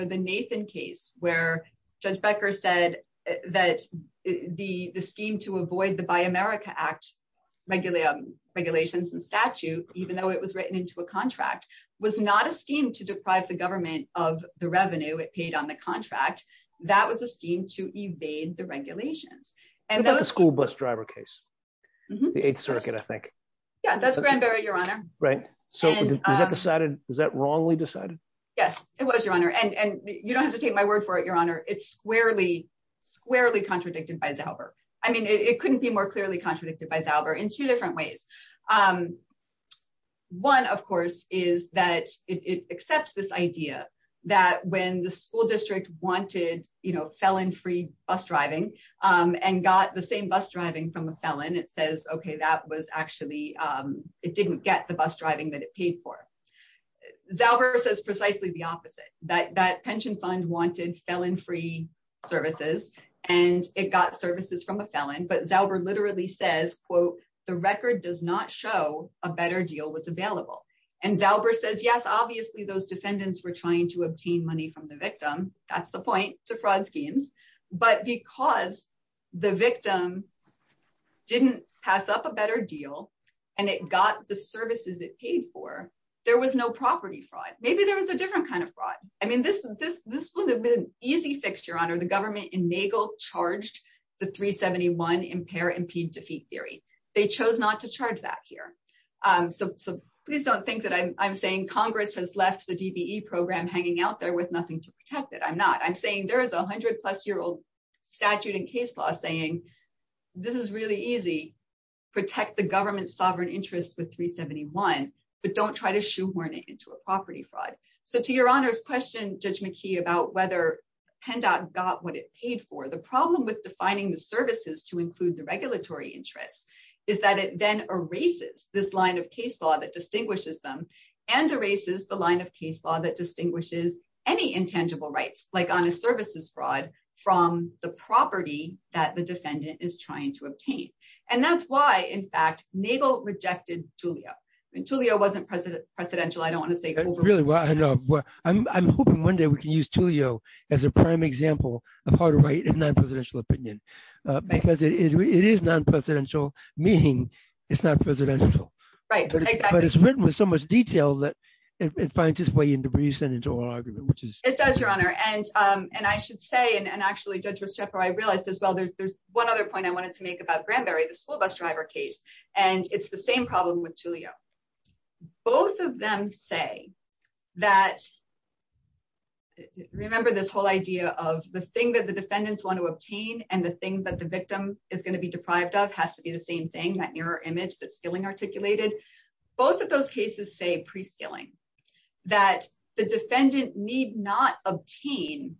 the Nathan case, where Judge Becker said that the scheme to avoid the Buy America Act regulations and statute, even though it was written into a contract, was not a scheme to deprive the government of the revenue it paid on the contract. That was a scheme to evade the regulations. That's the school bus driver case, the Eighth Circuit, I think. Yeah, that's Grandberry, Your Honor. Is that wrongly decided? Yes, it was, Your Honor. You don't have to take my word for it, Your Honor. It's squarely contradicted by Zauber. It couldn't be more clearly contradicted by Zauber in two different ways. One, of course, is that it accepts this idea that when the school district wanted felon-free bus driving and got the same bus driving from a felon, it says, okay, that was actually, it didn't get the bus driving that it paid for. Zauber says precisely the opposite, that that pension fund wanted felon-free services, and it got services from a felon, but Zauber literally says, quote, the record does not show a better deal was available. And Zauber says, yes, obviously, those defendants were trying to obtain money from the victim. That's the point to fraud schemes. But because the victim didn't pass up a better deal, and it got the services it paid for, there was no property fraud. Maybe there was a different kind of fraud. I mean, this would have been an easy fix, Your Honor. The government in Nagle charged the 371 impair-impede-defeat theory. They chose not to charge that here. So please don't think that I'm saying Congress has left the DBE program hanging out there with nothing to protect it. I'm not. I'm saying there is a hundred-plus-year-old statute and case law saying this is really easy, protect the government's sovereign interests with 371, but don't try to shoehorn it into a property fraud. So to Your Honor's question, Judge McKee, about whether PennDOT got what it paid for, the problem with defining the services to include the regulatory interest is that it then erases this line of case law that distinguishes them and erases the line of case law that distinguishes any intangible rights, like honest services fraud, from the property that the defendant is trying to obtain. And that's why, in fact, Nagle rejected TULIO. TULIO wasn't precedential. I don't want to say that. Really, well, I know. I'm hoping one day we can use TULIO as a prime example of how to write a non-presidential opinion. Because it is non-presidential, meaning it's not presidential. Right, exactly. But it's written with so much detail that it finds its way into presidential argument, which is... It does, Your Honor. And I should say, and actually, Judge Rochefort, I realized as well, there's one other point I wanted to make about Granberry, the school bus driver case, and it's the same problem with TULIO. Both of them say that, remember this whole idea of the thing that the defendants want to obtain and the thing that the victim is going to be deprived of has to be the same thing, that mirror image that's articulated. Both of those cases say, pre-scaling, that the defendant need not obtain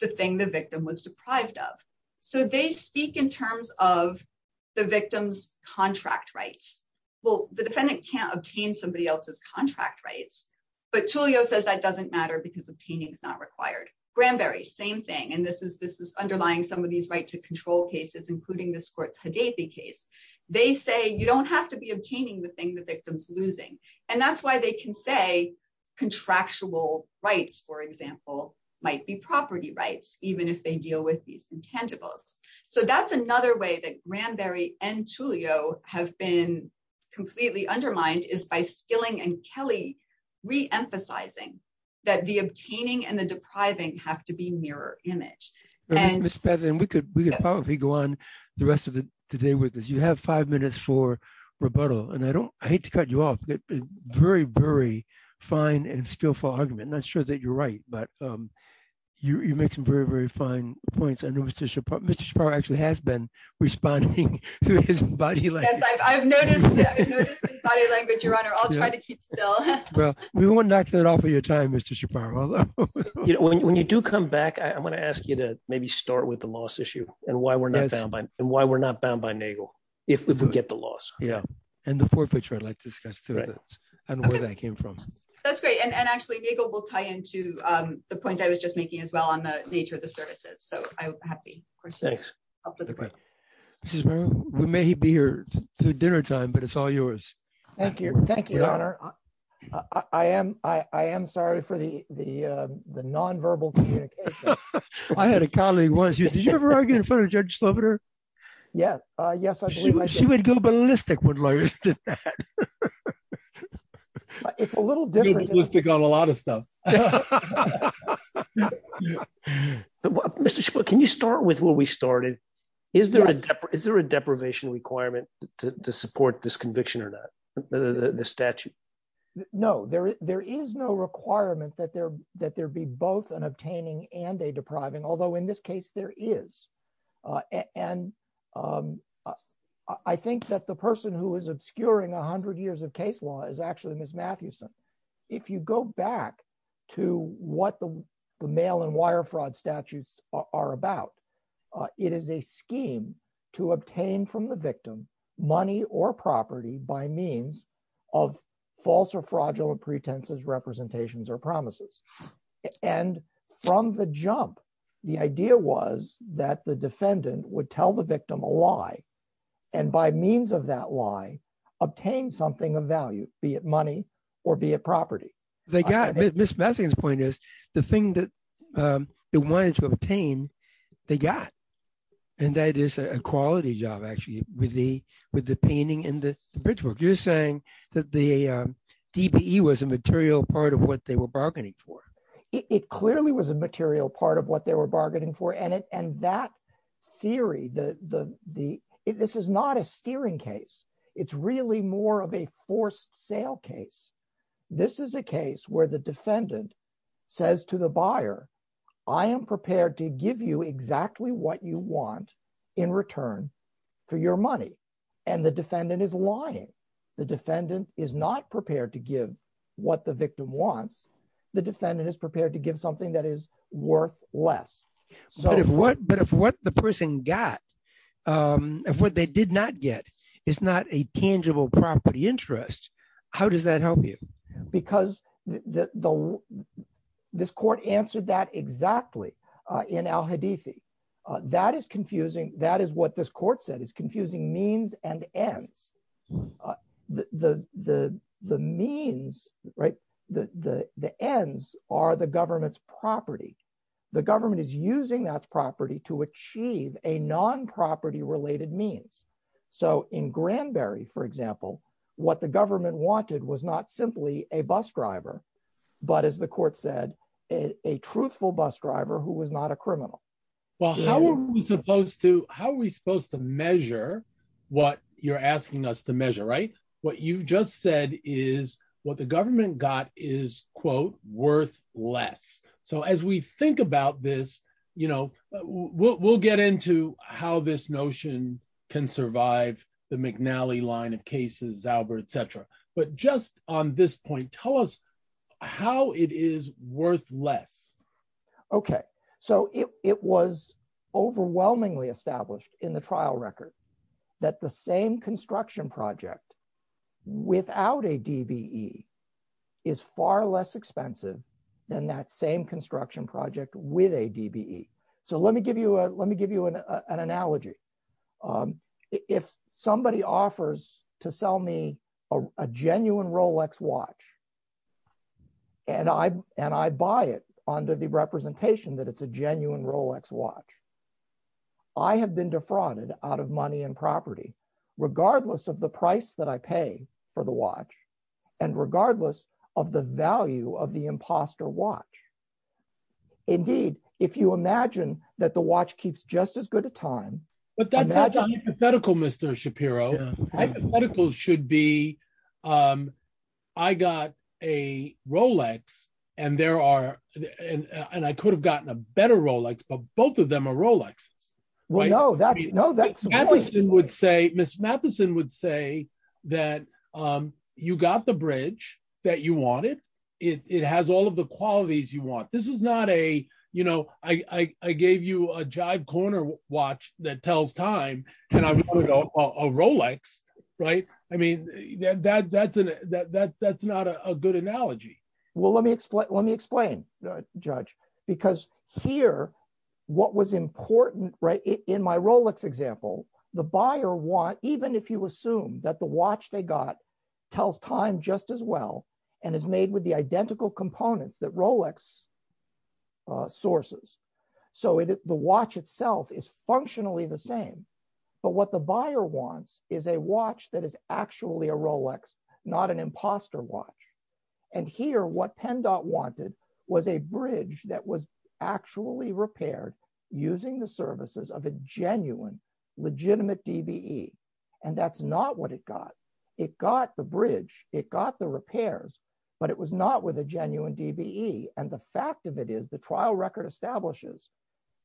the thing the victim was deprived of. So they speak in terms of the victim's contract rights. Well, the defendant can't obtain somebody else's contract rights, but TULIO says that doesn't matter because obtaining is not required. Granberry, same thing. And this is underlying some of these right to control cases, including this court's Hadaipi case. They say you don't have to be obtaining the thing the victim's losing. And that's why they can say contractual rights, for example, might be property rights, even if they deal with these intangibles. So that's another way that Granberry and TULIO have been completely undermined is by Skilling and Kelly reemphasizing that the obtaining and the depriving have to be mirror image. Ms. Patterson, we could probably go on the rest of the day with this. You have five minutes for rebuttal. And I hate to cut you off, but a very, very fine and skillful argument. I'm not sure that you're right, but you make some very, very fine points. I know Mr. Shaparro actually has been responding to his body language. I've noticed his body language, Your Honor. I'll try to keep still. Well, we won't knock that off of your time, Mr. Shaparro. When you do come back, I'm going to ask you to maybe start with the loss issue and why we're not bound by NAGLE if we do get the loss. Yeah. And the forfeiture I'd like to discuss too and where that came from. That's great. And actually, NAGLE will tie into the point I was just making as well on the nature of the services. So I'm happy. Thanks. We may be here through dinner time, but it's all yours. Thank you. Thank you, Your Honor. I am sorry for the nonverbal communication. I had a colleague once. Did you ever argue in front of Judge Slobider? Yes. Yes, I believe I did. She would go ballistic when lawyers did that. It's a little different. You got a lot of stuff. Mr. Shaparro, can you start with where we started? Is there a deprivation requirement to support this conviction or not, this statute? No, there is no requirement that there be both an obtaining and a depriving, although in this case there is. And I think that the person who is obscuring 100 years of case law is actually Ms. Mathewson. If you go back to what the mail and wire fraud statutes are about, it is a scheme to obtain from the victim money or property by means of false or fraudulent pretenses, representations, or promises. And from the jump, the idea was that the defendant would tell the victim a lie and by means of that lie, obtain something of value, be it money or be it property. Ms. Matthewson's point is the thing that they wanted to obtain, they got. And that is a quality job, actually, with the painting and the bridge work. You're saying that the DBE was a material part of what they were bargaining for? It clearly was a material part of what they were bargaining for. And that theory, this is not a steering case. It's really more of a forced sale case. This is a case where the defendant says to the buyer, I am prepared to give you exactly what you want in return for your money. And the defendant is lying. The defendant is not prepared to give what the victim wants. The defendant is prepared to give something that is worth less. But if what the person got, if what they did not get is not a tangible property interest, how does that help you? Because this court answered that exactly in Al-Hadithi. That is confusing. That is what this court said. It's confusing means and ends. The means, right, the ends are the government's property. The government is using that property to achieve a non-property related means. So in Granberry, for example, what the government wanted was not simply a bus driver, but as the court said, a truthful bus driver who was not a criminal. How are we supposed to measure what you're asking us to measure, right? What you just said is what the government got is, quote, worth less. So as we think about this, you know, we'll get into how this notion can survive the McNally line of cases, Zauber, et cetera. But just on this point, tell us how it is worth less. Okay. So it was overwhelmingly established in the trial record that the same construction project without a DBE is far less expensive than that same construction project with a DBE. So let me give you an analogy. If somebody offers to sell me a genuine Rolex watch, and I buy it under the representation that it's a genuine Rolex watch, I have been defrauded out of money and property, regardless of the price that I pay for the watch, and regardless of the value of the imposter watch. Indeed, if you imagine that the watch keeps just as good a time. But that's hypothetical, Mr. Shapiro. Hypothetical should be, I got a Rolex, and there are, and I could have gotten a better Rolex, but both of them are Rolex. Ms. Matheson would say that you got the bridge that you wanted. It has all of the qualities you want. This is not a, you know, I gave you a jive corner watch that tells time, and I'm giving you a Rolex, right? I mean, that's not a good analogy. Well, let me explain, Judge, because here, what was important, right, in my Rolex example, the buyer want, even if you assume that the watch they got tells time just as well, and is made with the identical components that Rolex sources. So the watch itself is functionally the same, but what the buyer wants is a watch that is actually a Rolex, not an imposter watch. And here, what PennDOT wanted was a bridge that was actually repaired using the services of a genuine, legitimate DBE. And that's not what it got. It got the bridge, it got the repairs, but it was not with a genuine DBE. And the fact of it is, the trial record establishes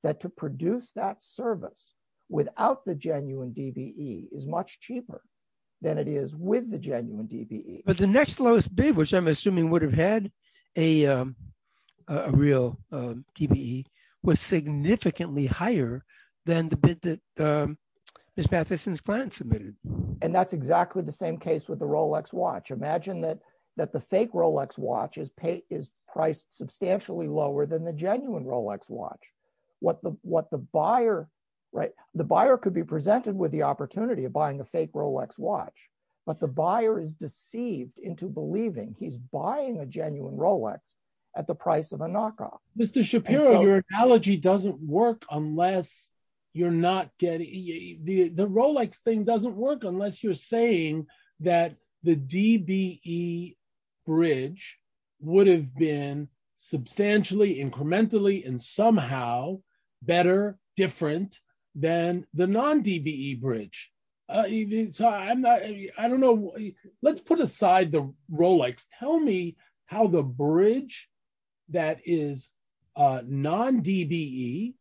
that to produce that service without the genuine DBE is much cheaper than it is with the genuine DBE. But the next lowest bid, which I'm assuming would have had a real DBE, was significantly higher than the bid that Ms. Matheson's client submitted. And that's exactly the same case with the Rolex watch. Imagine that the fake Rolex watch is priced substantially lower than the genuine Rolex watch. What the buyer, right, the buyer could be but the buyer is deceived into believing he's buying a genuine Rolex at the price of a knockoff. Mr. Shapiro, your analogy doesn't work unless you're not getting... The Rolex thing doesn't work unless you're saying that the DBE bridge would have been substantially, incrementally, and somehow better, different than the non-DBE bridge. I don't know. Let's put aside the Rolex. Tell me how the bridge that is non-DBE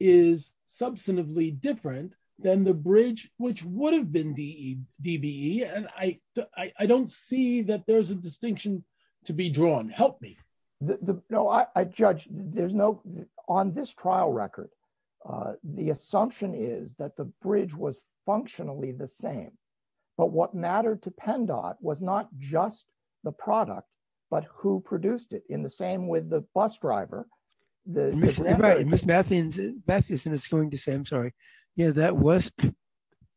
is substantively different than the bridge which would have been DBE. And I don't see that there's a distinction to be drawn. Help me. No, I judge. There's no... On this trial record, the assumption is that the bridge was functionally the same. But what mattered to PennDOT was not just the product, but who produced it. In the same with the bus driver. Ms. Matheson is going to say, I'm sorry, yeah, that was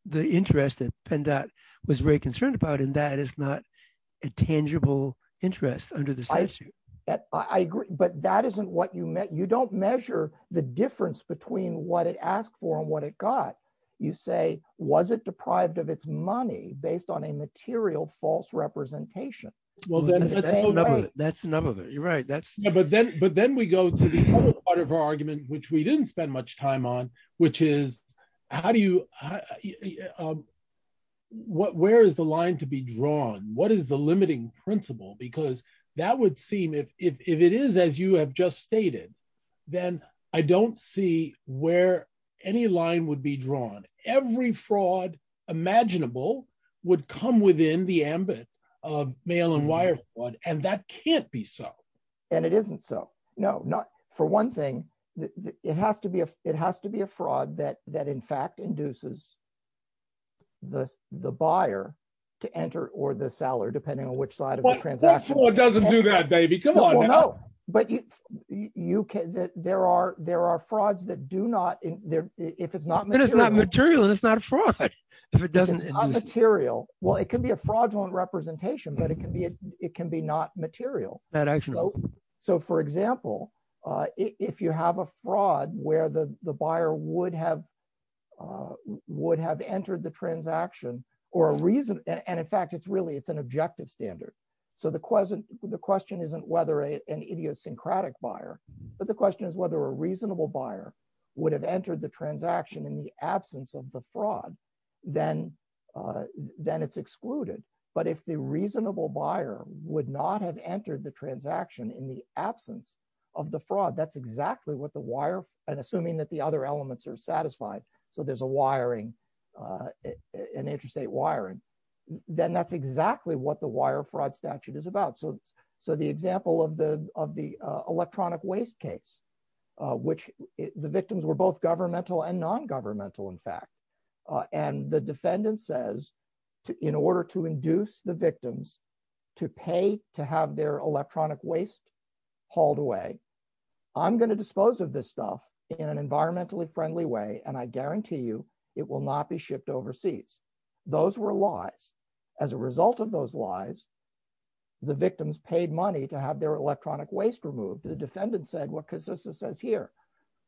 the interest that PennDOT was very concerned about. And that is not a tangible interest under the statute. I agree. But that isn't what you meant. You don't measure the difference between what it asked for and what it got. You say, was it deprived of its money based on a material false representation? Well, that's none of it. You're right. But then we go to the other part of our argument, which we didn't spend much time on, which is where is the line to be drawn? What is the limiting principle? Because that would seem, if it is as you have just stated, then I don't see where any line would be drawn. Every fraud imaginable would come within the ambit of mail and wire fraud. And that can't be so. And it isn't so. No, not for one thing. It has to be a fraud that, in fact, induces the buyer to enter or the seller, depending on which side of the transaction. What fraud doesn't do that, baby? Come on now. But there are frauds that do not, if it's not material. If it's not material, it's not a fraud. If it's not material, well, it can be a fraudulent representation, but it can be not material. Not actually. So, for example, if you have a fraud where the buyer would have entered the transaction, or a reason, and in fact, it's really, it's an objective standard. So the question isn't whether an idiosyncratic buyer, but the question is whether a reasonable buyer would have entered the transaction in the absence of the fraud, then it's excluded. But if the reasonable buyer would not have entered the transaction in the absence of the fraud, that's exactly what the wire, and assuming that the other elements are satisfied, so there's a wiring, an interstate wiring, then that's exactly what the wire fraud statute is about. So the example of the electronic waste case, which the victims were both governmental and non-governmental, in fact, and the defendant says, in order to induce the victims to pay to have their electronic waste hauled away, I'm going to dispose of this stuff in an environmentally friendly way, and I guarantee you it will not be shipped overseas. Those were lies. As a result of those lies, the victims paid money to have their electronic waste removed. The defendant said what Kasissa says here,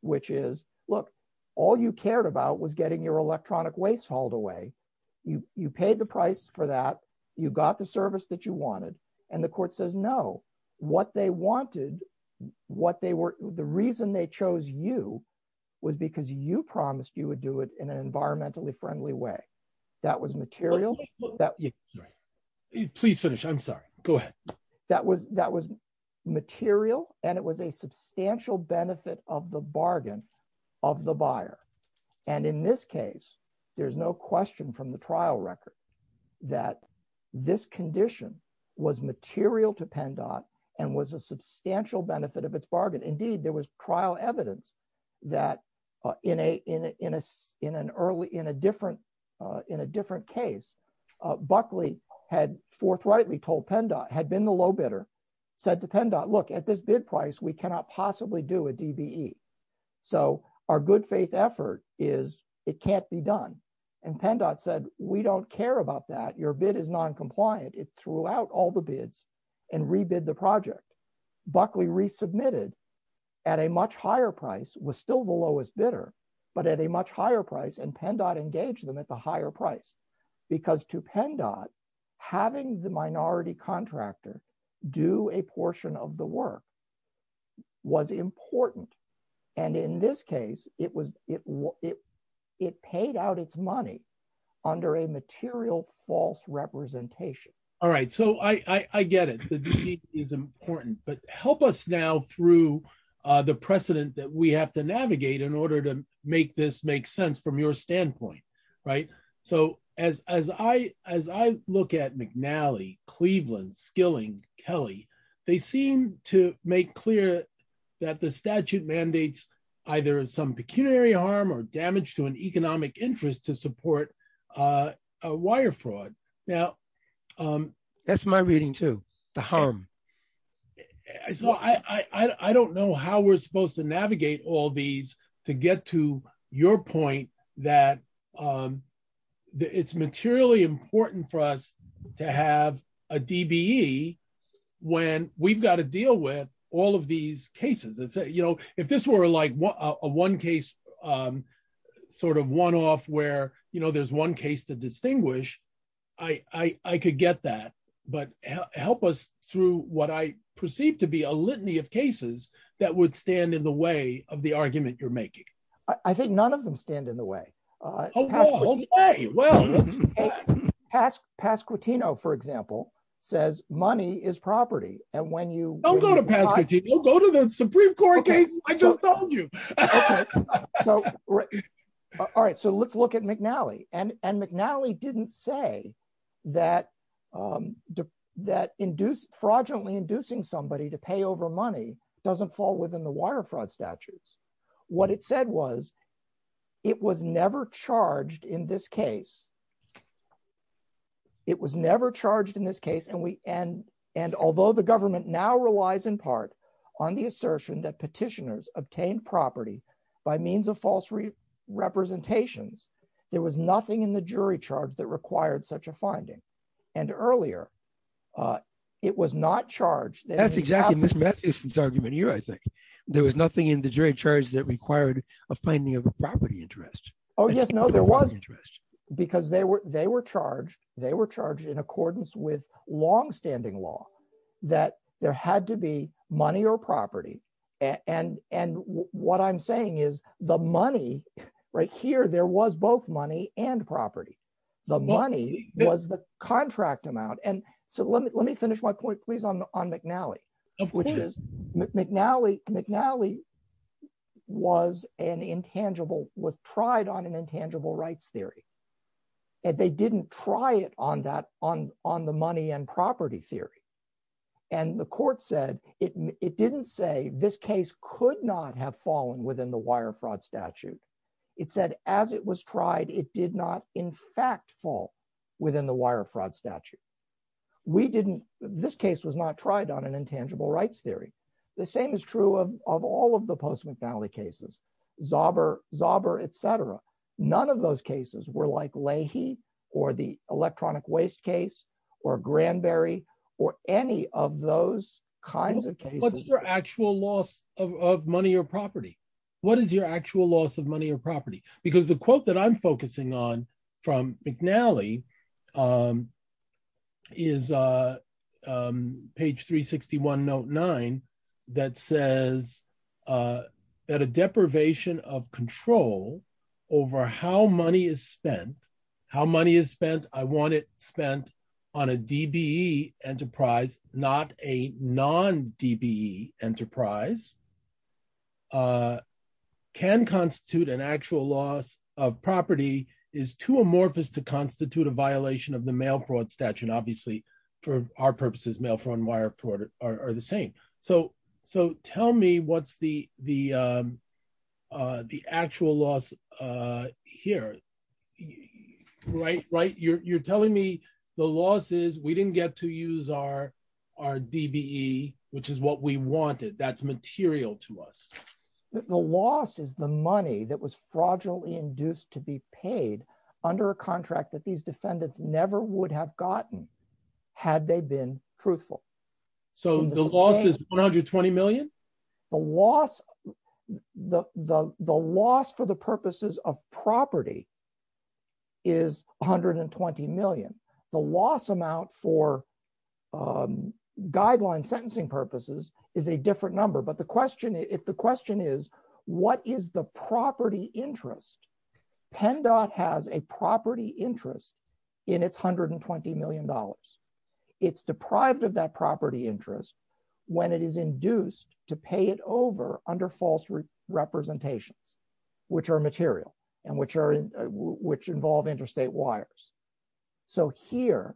which is, look, all you cared about was getting your electronic waste hauled away. You paid the price for that, you got the service that you wanted, and the court says, no, what they wanted, the reason they chose you was because you promised you would do it in an environmentally friendly way. That was material. Please finish, I'm sorry. That was material, and it was a substantial benefit of the bargain of the buyer, and in this case, there's no question from the trial record that this condition was material to PennDOT and was a substantial benefit of its bargain. Indeed, there was trial evidence that in a different case, Buckley had forthrightly told PennDOT, had been the low bidder, said to PennDOT, look, at this bid price, we cannot possibly do a DBE, so our good faith effort is it can't be done, and PennDOT said, we don't care about that. Your bid is noncompliant. It resubmitted at a much higher price, was still the lowest bidder, but at a much higher price, and PennDOT engaged them at the higher price, because to PennDOT, having the minority contractor do a portion of the work was important, and in this case, it paid out its money under a material false representation. All right, so I get it. The DBE is important, but help us now through the precedent that we have to navigate in order to make this make sense from your standpoint, right? So as I look at McNally, Cleveland, Skilling, Kelly, they seem to make clear that the statute mandates either some pecuniary harm or damage to an economic interest to support a wire fraud. Now, that's my reading too, the harm. So I don't know how we're supposed to navigate all these to get to your point that it's materially important for us to have a DBE when we've got to deal with all of these where, you know, there's one case to distinguish. I could get that, but help us through what I perceive to be a litany of cases that would stand in the way of the argument you're making. I think none of them stand in the way. Pasquitino, for example, says money is property. Don't go to Pasquitino. Go to the Supreme Court case I just told you. All right. So let's look at McNally. And McNally didn't say that fraudulently inducing somebody to pay over money doesn't fall within the wire fraud statutes. What it said was it was never charged in this case. It was never charged in this case. And although the government now relies in part on the assertion that petitioners obtained property by means of false representations, there was nothing in the jury charge that required such a finding. And earlier, it was not charged. That's exactly Ms. Matthewson's argument here, I think. There was nothing in the jury charge that required a finding of a property interest. Oh, yes. No, there was. Because they were charged. They were charged in accordance with your property. And what I'm saying is the money right here, there was both money and property. The money was the contract amount. And so let me finish my point, please, on McNally. McNally was an intangible, was tried on an intangible rights theory. And they didn't try it on the money and property theory. And the court said it didn't say this case could not have fallen within the wire fraud statute. It said as it was tried, it did not, in fact, fall within the wire fraud statute. We didn't, this case was not tried on an intangible rights theory. The same is true of all of the Postman McNally cases, Zauber, Zauber, et cetera. None of those cases were like Leahy or the electronic waste case, or Granberry, or any of those kinds of cases. What's your actual loss of money or property? What is your actual loss of money or property? Because the quote that I'm focusing on from McNally is page 361, note nine, that says that a deprivation of control over how money is spent, how money is spent, I want it spent on a DBE enterprise, not a non-DBE enterprise, can constitute an actual loss of property, is too amorphous to constitute a violation of the mail fraud statute. And obviously, for our purposes, mail fraud and wire fraud are the same. So tell me what's the actual loss here. You're telling me the loss is we didn't get to use our DBE, which is what we wanted, that's material to us. The loss is the money that was fraudulently induced to be paid under a contract that these defendants never would have gotten had they been truthful. So the loss is $120 million? The loss for the purposes of property is $120 million. The loss amount for guideline sentencing purposes is a different number, but the question is, what is the property interest? PennDOT has a property interest in its $120 million. It's deprived of that property interest when it is induced to pay it over under false representations, which are material and which involve interstate wires. So here,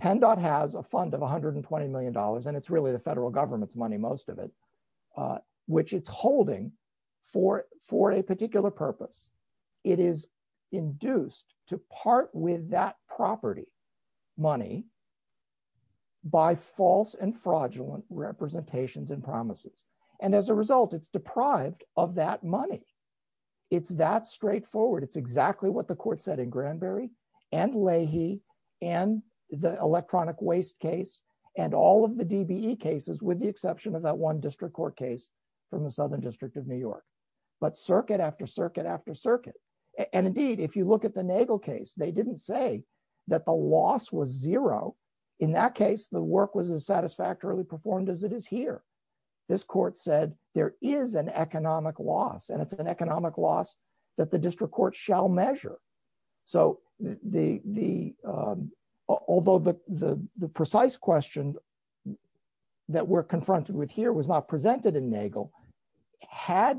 PennDOT has a fund of $120 million, and it's really the federal government's money, most of it, which it's holding for a particular purpose. It is induced to part with that property money by false and fraudulent representations and promises. And as a result, it's deprived of that money. It's that straightforward. It's exactly what the court said in Granberry and Leahy and the electronic waste case and all of the DBE cases, with the exception of that one district court case from the Southern District of New York. But circuit after circuit after circuit. And indeed, if you look at the Nagel case, they didn't say that the loss was zero. In that case, the work was as satisfactorily performed as it is here. This court said there is an economic loss, and it's an economic loss that the district court shall measure. So although the precise question that we're confronted with here was not presented in Nagel, had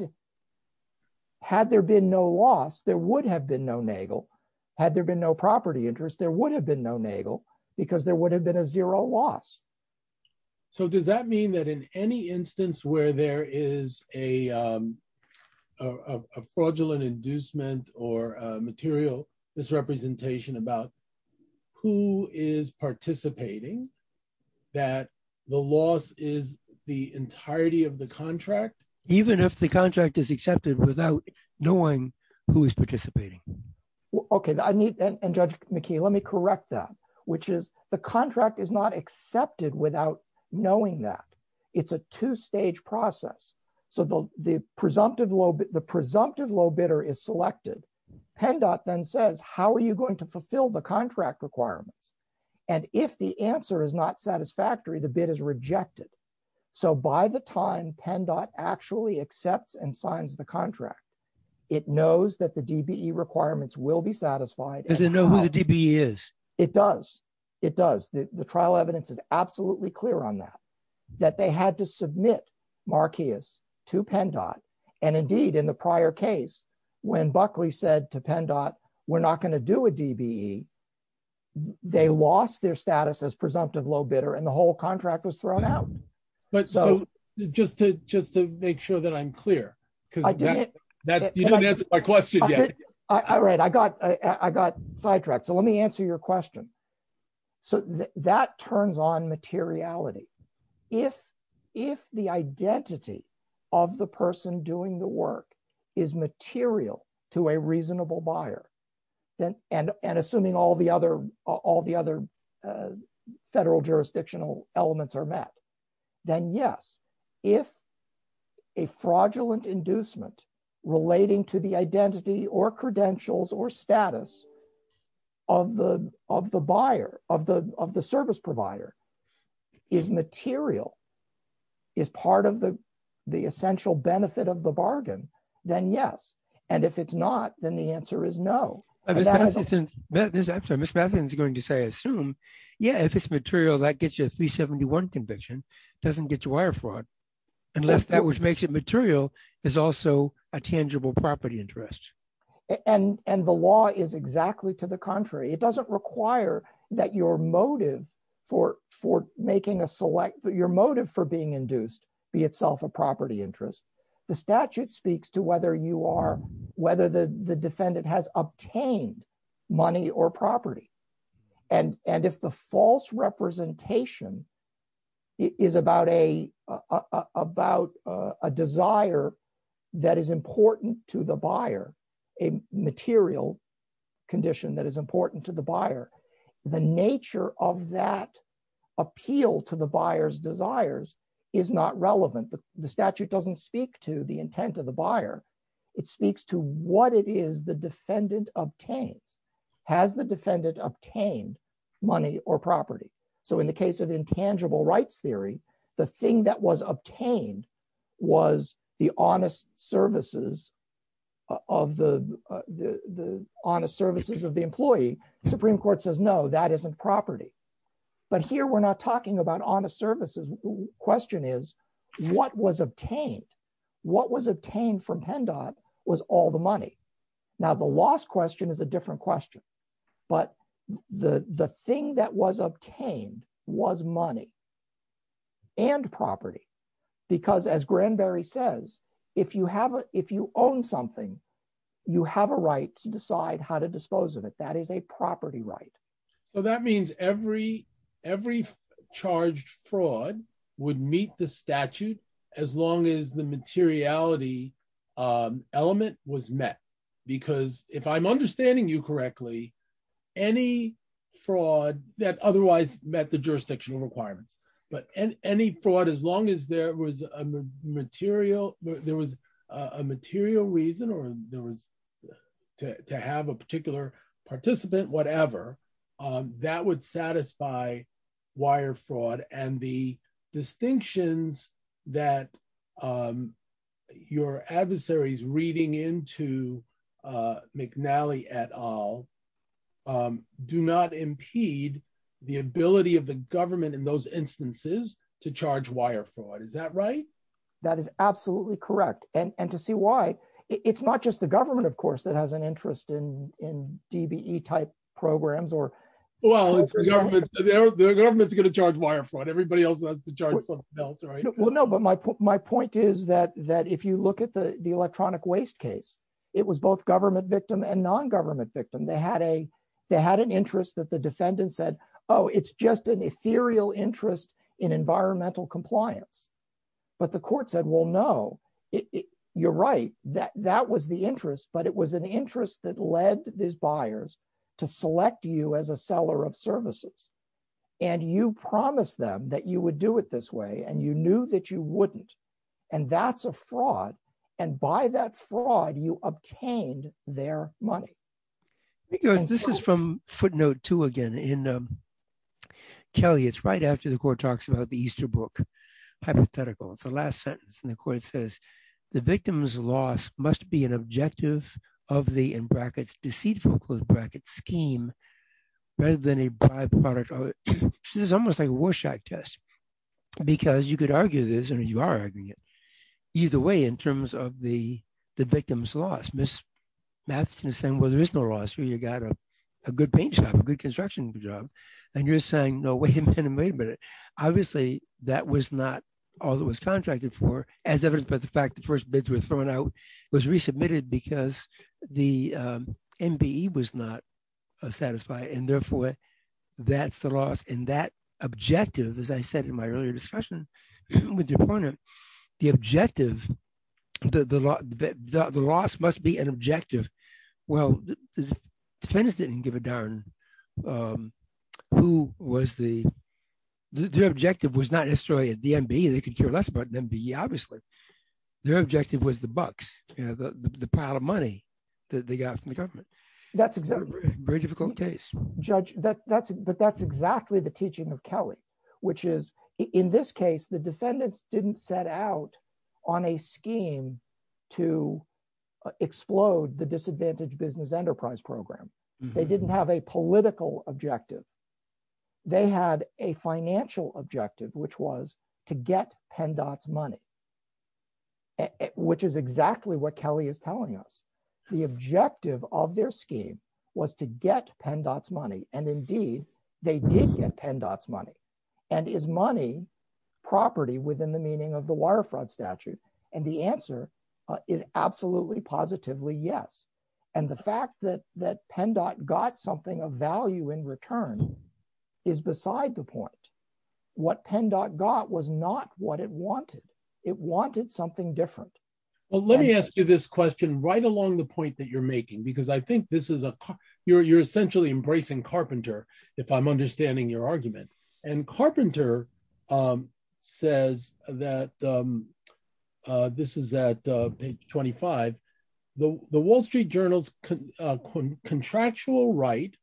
there been no loss, there would have been no Nagel. Had there been no property interest, there would have been no Nagel because there would have been a zero loss. So does that mean that in any instance where there is a fraudulent inducement or material misrepresentation about who is participating, that the loss is the entirety of the contract? Even if the contract is accepted without knowing who is participating? Okay. And Judge McKee, let me correct that, which is the contract is not process. So the presumptive low bidder is selected. PennDOT then says, how are you going to fulfill the contract requirements? And if the answer is not satisfactory, the bid is rejected. So by the time PennDOT actually accepts and signs the contract, it knows that the DBE requirements will be satisfied. Does it know who the DBE is? It does. It does. The trial evidence is absolutely clear on that, that they had to submit Marqueas to PennDOT. And indeed, in the prior case, when Buckley said to PennDOT, we're not going to do a DBE, they lost their status as presumptive low bidder and the whole contract was thrown out. But just to make sure that I'm clear, because you haven't answered my question yet. All right. I got sidetracked. So let me answer your question. So that turns on materiality. If the identity of the person doing the work is material to a reasonable buyer, and assuming all the other federal jurisdictional elements are met, then yes. If a fraudulent inducement relating to the identity or credentials or status of the buyer, of the service provider, is material, is part of the essential benefit of the bargain, then yes. And if it's not, then the answer is no. Actually, Ms. Matthews is going to say, assume, yeah, if it's material, that gets you a 371 conviction, doesn't get you wire fraud, unless that which makes it material is also a tangible property interest. And the law is exactly to the contrary. It doesn't require that your motive for being induced be itself a property interest. The statute speaks to whether the defendant has obtained money or property. And if the false representation is about a desire that is important to the buyer, a material condition that is important to the buyer, the nature of that appeal to the buyer's desires is not relevant. The statute doesn't speak to the intent of the buyer. It speaks to what it is the defendant obtained. Has the defendant obtained money or property? So in the case of intangible rights theory, the thing that was obtained was the honest services of the employee. The Supreme Court says, no, that isn't property. But here we're not talking about honest services. The question is, what was obtained? What was obtained from Hendob was all the money. Now, the lost question is a different question. But the thing that was obtained was money and property. Because as Granberry says, if you own something, you have a right to decide how to dispose of it. That is a property right. So that means every charged fraud would meet the statute as long as the materiality element was met. Because if I'm understanding you correctly, any fraud that otherwise met the jurisdictional requirements, but any fraud, as long as there was a material reason to have a particular participant, whatever, that would satisfy wire fraud. And the distinctions that your adversaries reading into McNally et al do not impede the ability of the government in those instances to charge wire fraud. Is that right? That is absolutely correct. And to see why, it's not just the government, of course, that has an interest in DBE type programs or... Well, the government is going to charge wire fraud. Everybody else wants to charge something else, right? Well, no, but my point is that if you look at the electronic waste case, it was both government victim and non-government victim. They had an interest that the defendant said, oh, it's just an ethereal interest in environmental compliance. But the court said, well, no, you're right. That was the interest, but it was an interest that led these buyers to select you as a seller of services. And you promised them that you would do it this way. And you knew that you wouldn't. And that's a fraud. And by that fraud, you obtained their money. This is from footnote two, again, in Kelly. It's right after the court talks about the Easter book hypothetical. It's the last sentence. And the court says, the victim's loss must be an objective of the, in brackets, deceitful, close brackets, scheme rather than a by-product. This is almost like a Warshak test, because you could argue this, and you are arguing it, either way in terms of the victim's loss. Ms. Matheson is saying, well, there is no loss. You got a good paint job, a good construction job. And you're saying, no, wait a minute, wait a minute. Obviously, that was not all that was contracted for, as evidenced by the fact that the first bids were thrown out, was resubmitted because the MBE was not satisfied. And therefore, that's the loss. And that objective, as I said in my earlier discussion, the objective, the loss must be an objective. Well, the defense didn't give a darn who was the, their objective was not necessarily a DMB. They could care less about an MBE, obviously. Their objective was the bucks, the pile of money that they got from the government. Very difficult case. Judge, but that's exactly the teaching of Kelly, which is, in this case, the defendants didn't set out on a scheme to explode the disadvantaged business enterprise program. They didn't have a political objective. They had a financial objective, which was to get PennDOT's money, which is exactly what Kelly is telling us. The objective of their scheme was to get PennDOT's money. And indeed, they did get PennDOT's money. And is money property within the meaning of the wire fraud statute? And the answer is absolutely, positively, yes. And the fact that PennDOT got something of value in return is beside the point. What PennDOT got was not what it wanted. It wanted something different. Well, let me ask you this question right along the point that you're making, because I think you're essentially embracing Carpenter, if I'm understanding your argument. And Carpenter says that, this is at page 25, the Wall Street Journal's contractual right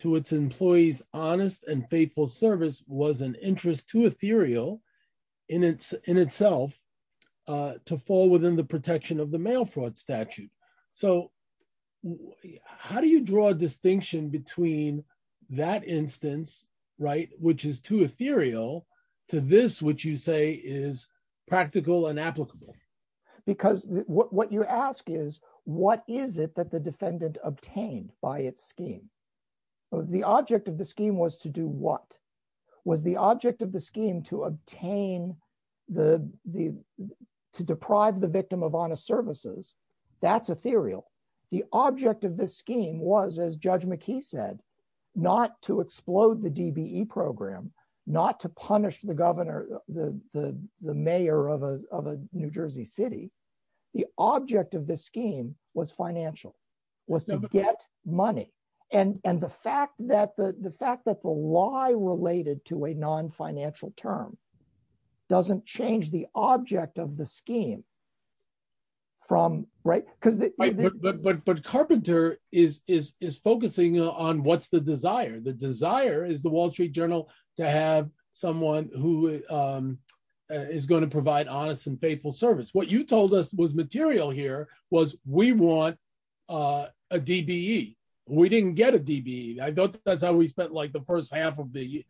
to its employees' honest and faithful service was an interest to Ethereal in itself to fall within the protection of the mail fraud statute. So how do you draw a distinction between that instance, which is too Ethereal, to this, which you say is practical and applicable? Because what you ask is, what is it that the defendant obtained by its scheme? The object of the scheme was to do what? Was the object of the scheme to obtain, the, to deprive the victim of honest services? That's Ethereal. The object of this scheme was, as Judge McKee said, not to explode the DBE program, not to punish the governor, the mayor of a New Jersey city. The object of this scheme was financial, was to get money. And the fact that why related to a non-financial term doesn't change the object of the scheme, from, right? But Carpenter is focusing on what's the desire. The desire is the Wall Street Journal to have someone who is going to provide honest and faithful service. What you told us was material here was we want a DBE. We didn't get a DBE. I don't think that's how we spent like the first half of the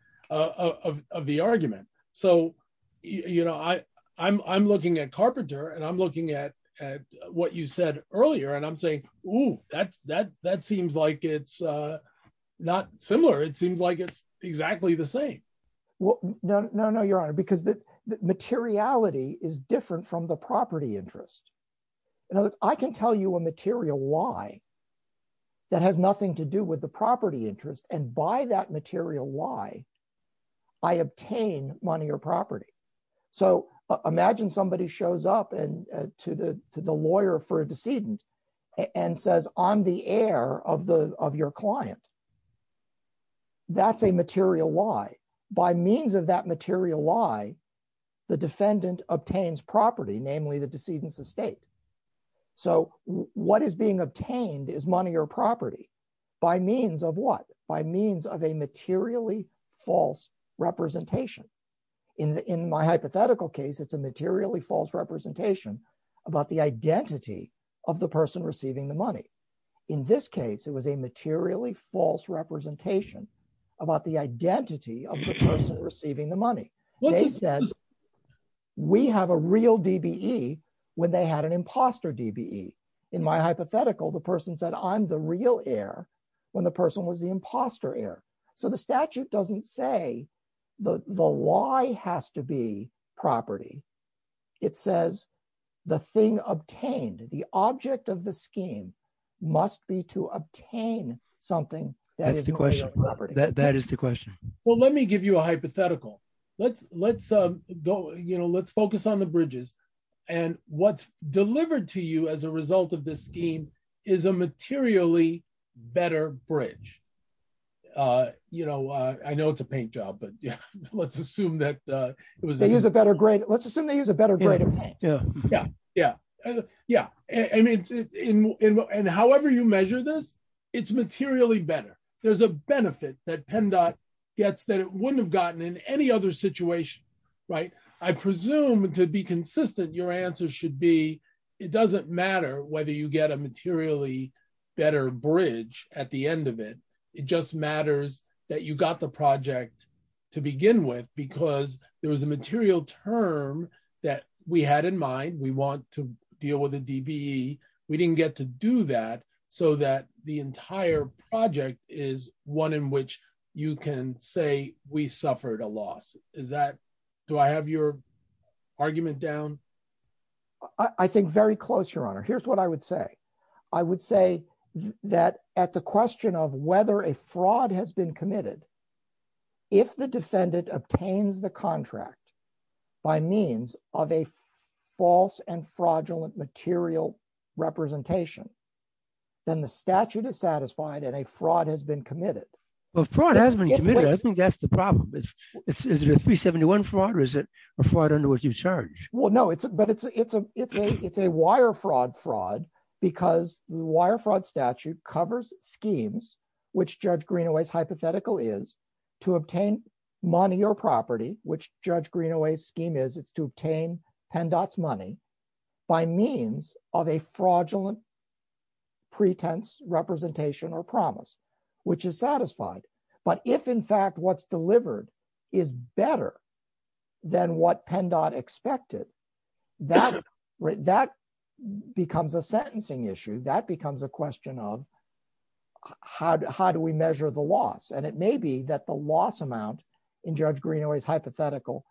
argument. So, you know, I'm looking at Carpenter and I'm looking at what you said earlier and I'm saying, Ooh, that seems like it's not similar. It seems like it's exactly the same. Well, no, no, no, your honor, because the materiality is different from the property interest. I can tell you a material lie that has nothing to do with the property interest. And by that material lie, I obtain money or property. So imagine somebody shows up to the lawyer for a decedent and says, I'm the heir of your client. That's a material lie. By means of that material lie, the defendant obtains property, namely the decedent's estate. So what is being obtained is money or property by means of what? By means of a materially false representation. In my hypothetical case, it's a materially false representation about the identity of the person receiving the money. In this case, it was a materially false representation about the identity of the person receiving the money. They said we have a real DBE when they had an imposter DBE. In my hypothetical, the person said I'm the real heir when the person was the imposter heir. So the statute doesn't say the lie has to be property. It says the thing obtained, the object of the scheme must be to obtain something that is material property. That is the question. Well, let me give you a hypothetical. Let's focus on the bridges. And what's delivered to you as a result of this scheme is a materially better bridge. I know it's a paint job, but let's assume that it was a better grade. Let's assume they use a better grade. Yeah. And however you measure this, it's materially better. There's a benefit that PennDOT gets that it wouldn't have gotten in any other situation. I presume to be consistent, your answer should be it doesn't matter whether you get a materially better bridge at the end of it. It just matters that you got the project to begin with because there was a material term that we had in mind. We want to deal with a DBE. We didn't get to do that so that the entire project is one in which you can say we suffered a loss. Do I have your argument down? I think very close, your honor. Here's what I would say. I would say that at the question of whether a fraud has been committed, if the defendant obtains the contract by means of a false and fraudulent material representation, then the statute is satisfied and a fraud has been committed. A fraud has been committed. I think that's the problem. Is it a 371 fraud or is it a fraud under which you charge? Well, no, but it's a wire fraud fraud because the wire fraud statute covers schemes, which Judge Greenaway's hypothetical is to obtain money or property, which Judge Greenaway's scheme is to obtain PennDOT's money by means of a fraudulent pretense representation or promise, which is satisfied. But if in fact what's delivered is better than what PennDOT expected, that becomes a sentencing issue. That becomes a question of how do we measure the loss? And it may be that the loss amount in Judge Greenaway's hypothetical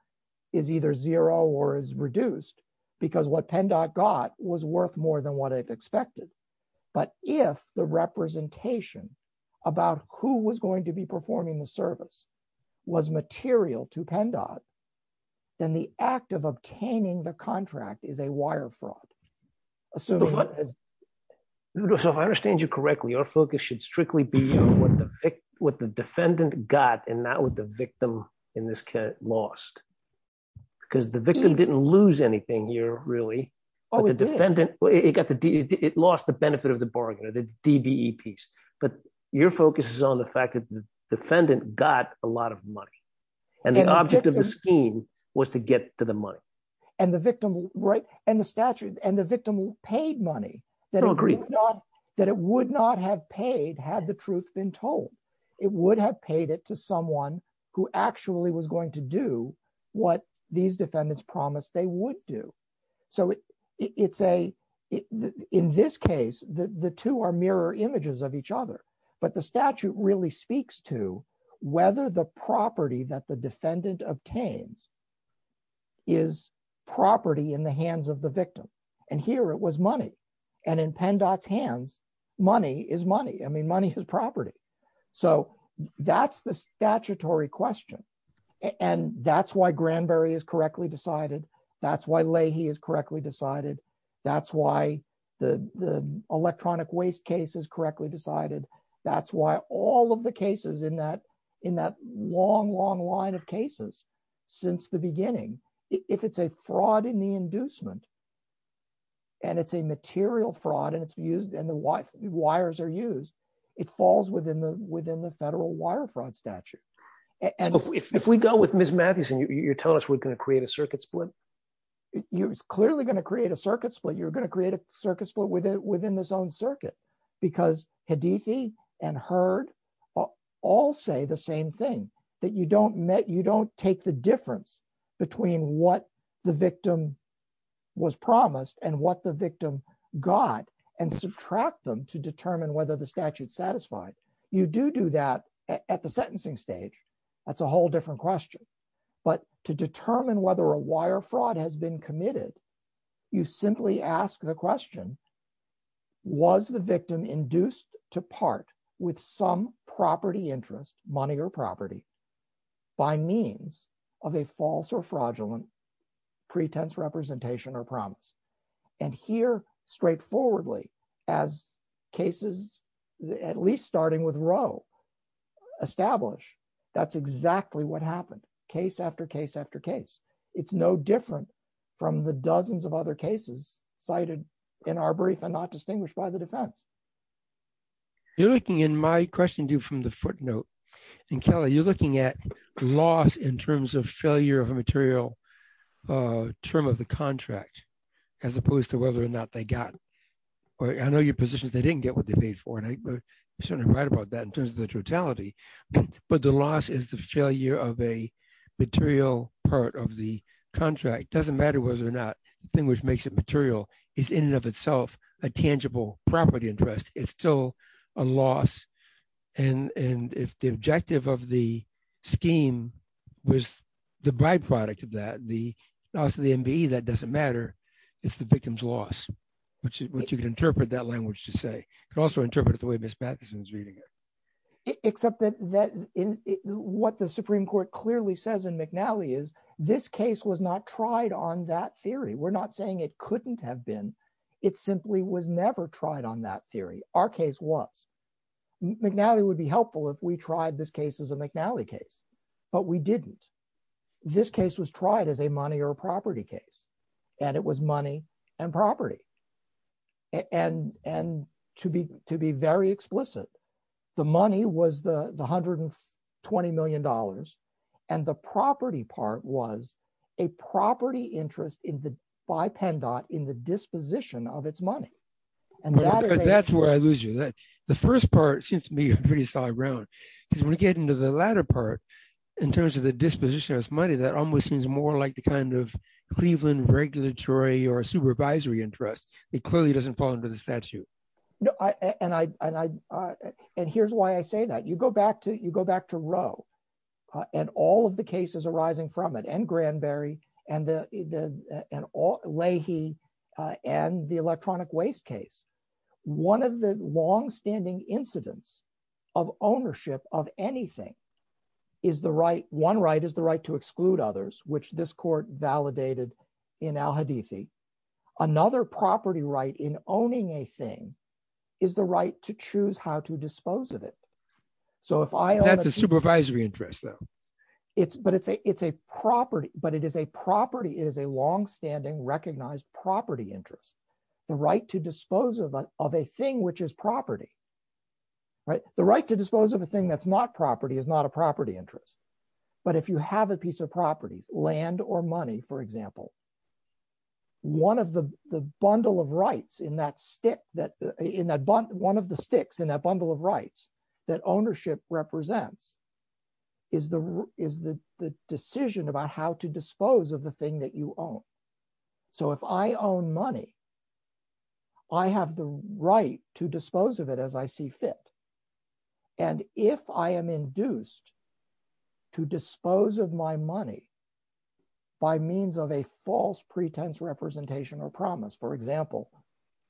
is either zero or is reduced because what PennDOT got was worth more than what it expected. But if the representation about who was going to be performing the service was material to PennDOT, then the act of obtaining the contract is a wire fraud. So if I understand you correctly, your focus should strictly be on what the defendant got and not what the victim in this case lost. Because the victim didn't lose anything here, really. It lost the benefit of the bargainer, the DBE piece. But your focus is on the fact that the defendant got a lot of money and the object of the scheme was to get to the money. And the victim paid money that it would not have paid had the truth been told. It would have paid it to someone who actually was going to do what these defendants promised they would do. So in this case, the two are mirror images of each other. But the statute really speaks to whether the property that the defendant obtains is property in the hands of the victim. And here it was money. And in PennDOT's hands, money is money. I mean, money is property. So that's the statutory question. And that's why Granberry is correctly decided. That's why Leahy is correctly decided. That's why the electronic waste case is correctly decided. That's why all of the cases in that long, long line of cases since the beginning, if it's a fraud in the inducement and it's a material fraud and it's used and the wires are used, it falls within the federal wire fraud statute. If we go with Ms. Mathieson, you're telling us we're going to create a circuit split? You're clearly going to create a circuit split. You're going to create a circuit split within this own circuit. Because Hadiki and Hurd all say the same thing, that you don't take the difference between what the victim was promised and what the victim got and subtract them to determine whether the statute's satisfied. You do do that at the sentencing stage. That's a whole different question. But to determine whether a wire fraud has been committed, you simply ask the question, was the victim induced to part with some property interest, money or property, by means of a false or fraudulent pretense representation or promise? And here, straightforwardly, as cases at least starting with Roe establish, that's exactly what dozens of other cases cited in our brief are not distinguished by the defense. You're looking in my question to you from the footnote. And Kelly, you're looking at loss in terms of failure of material term of the contract, as opposed to whether or not they got. I know your position is they didn't get what they paid for. And I certainly write about that in terms of the totality. But the loss is the failure of a material part of the contract. Doesn't matter whether or not the thing which makes it material is in and of itself a tangible property interest. It's still a loss. And if the objective of the scheme was the byproduct of that, the loss of the MBE, that doesn't matter. It's the victim's loss, which you can interpret that language to say. You can also interpret it the way Ms. Patterson is reading it. Except that what the Supreme Court clearly says in McNally is this case was not tried on that theory. We're not saying it couldn't have been. It simply was never tried on that theory. Our case was. McNally would be helpful if we tried this case as a McNally case. But we didn't. This case was tried as a money or property case. And it was money and property. And to be very explicit, the money was the $120 million. And the property part was a property interest by PENDOT in the disposition of its money. That's where I lose you. The first part seems to me pretty solid ground. Because when we get into the latter part, in terms of the disposition of its money, that almost seems more like the kind of Cleveland regulatory or supervisory interest. It clearly doesn't fall under the statute. And here's why I say that. You go back to Roe and all of the cases arising from it, and Granberry, and Leahy, and the electronic waste case. One of the longstanding incidents of ownership of anything, one right is the right to exclude others, which this court validated in Al-Hadithi. Another property right in owning a thing is the right to choose how to dispose of it. So if I own a thing- That's a supervisory interest, though. But it is a property. It is a longstanding recognized property interest. The right to dispose of a thing which is property. The right to dispose of a thing that's not property is not a piece of property, land or money, for example. One of the sticks in that bundle of rights that ownership represents is the decision about how to dispose of the thing that you own. So if I own money, I have the right to dispose of it as I see fit. And if I am induced to dispose of my money by means of a false pretense representation or promise, for example,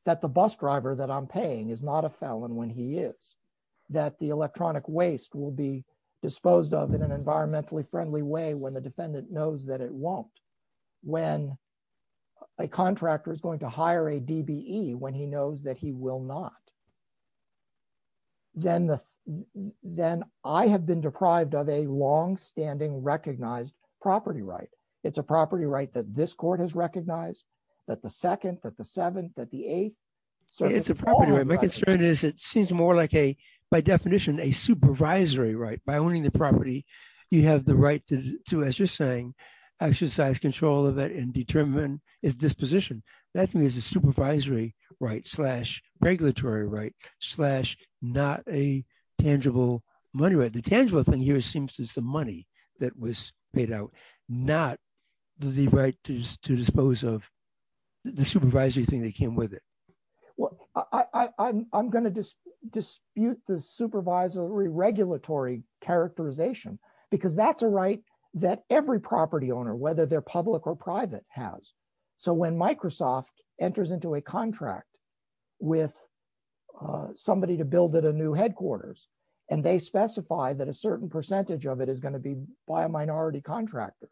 that the bus driver that I'm paying is not a felon when he is, that the electronic waste will be disposed of in an environmentally friendly way when the defendant knows that it won't, when a contractor is going to hire a DBE when he knows that he will not, then I have been deprived of a longstanding recognized property right. It's a property right that this court has recognized, that the second, that the seventh, that the eighth. It's a property right. My concern is it seems more like a, by definition, a supervisory right. By owning the property, you have the right to, as you're saying, exercise control of it and slash not a tangible money right. The tangible thing here seems to be the money that was paid out, not the right to dispose of the supervisory thing that came with it. Well, I'm going to dispute the supervisory regulatory characterization because that's a right that every property owner, whether they're public or private, has. So when Microsoft enters into a contract with somebody to build at a new headquarters and they specify that a certain percentage of it is going to be by a minority contractor,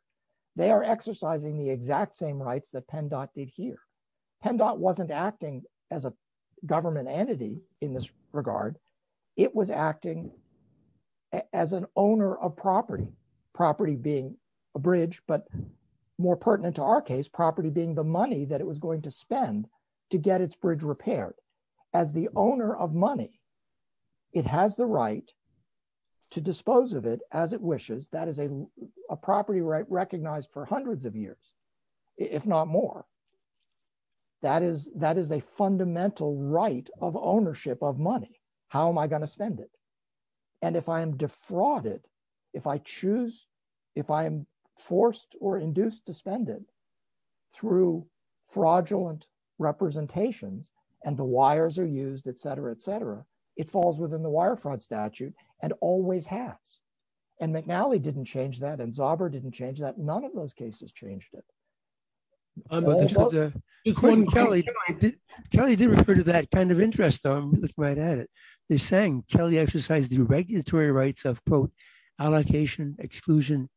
they are exercising the exact same rights that PennDOT did here. PennDOT wasn't acting as a government entity in this regard. It was acting as an owner of property, property being a bridge, but more pertinent to our case, property being the money that it was going to spend to get its bridge repaired. As the owner of money, it has the right to dispose of it as it wishes. That is a property right recognized for hundreds of years, if not more. That is a fundamental right of ownership of money. How am I going to spend it? And if I am defrauded, if I choose, if I am forced or induced to spend it, through fraudulent representations and the wires are used, et cetera, et cetera, it falls within the wire fraud statute and always has. And McNally didn't change that, and Zauber didn't change that. None of those cases changed it. Kelly did refer to that kind of interest though. I'm going to look right at it. They're saying Kelly exercised the regulatory rights of, quote, allocation, exclusion,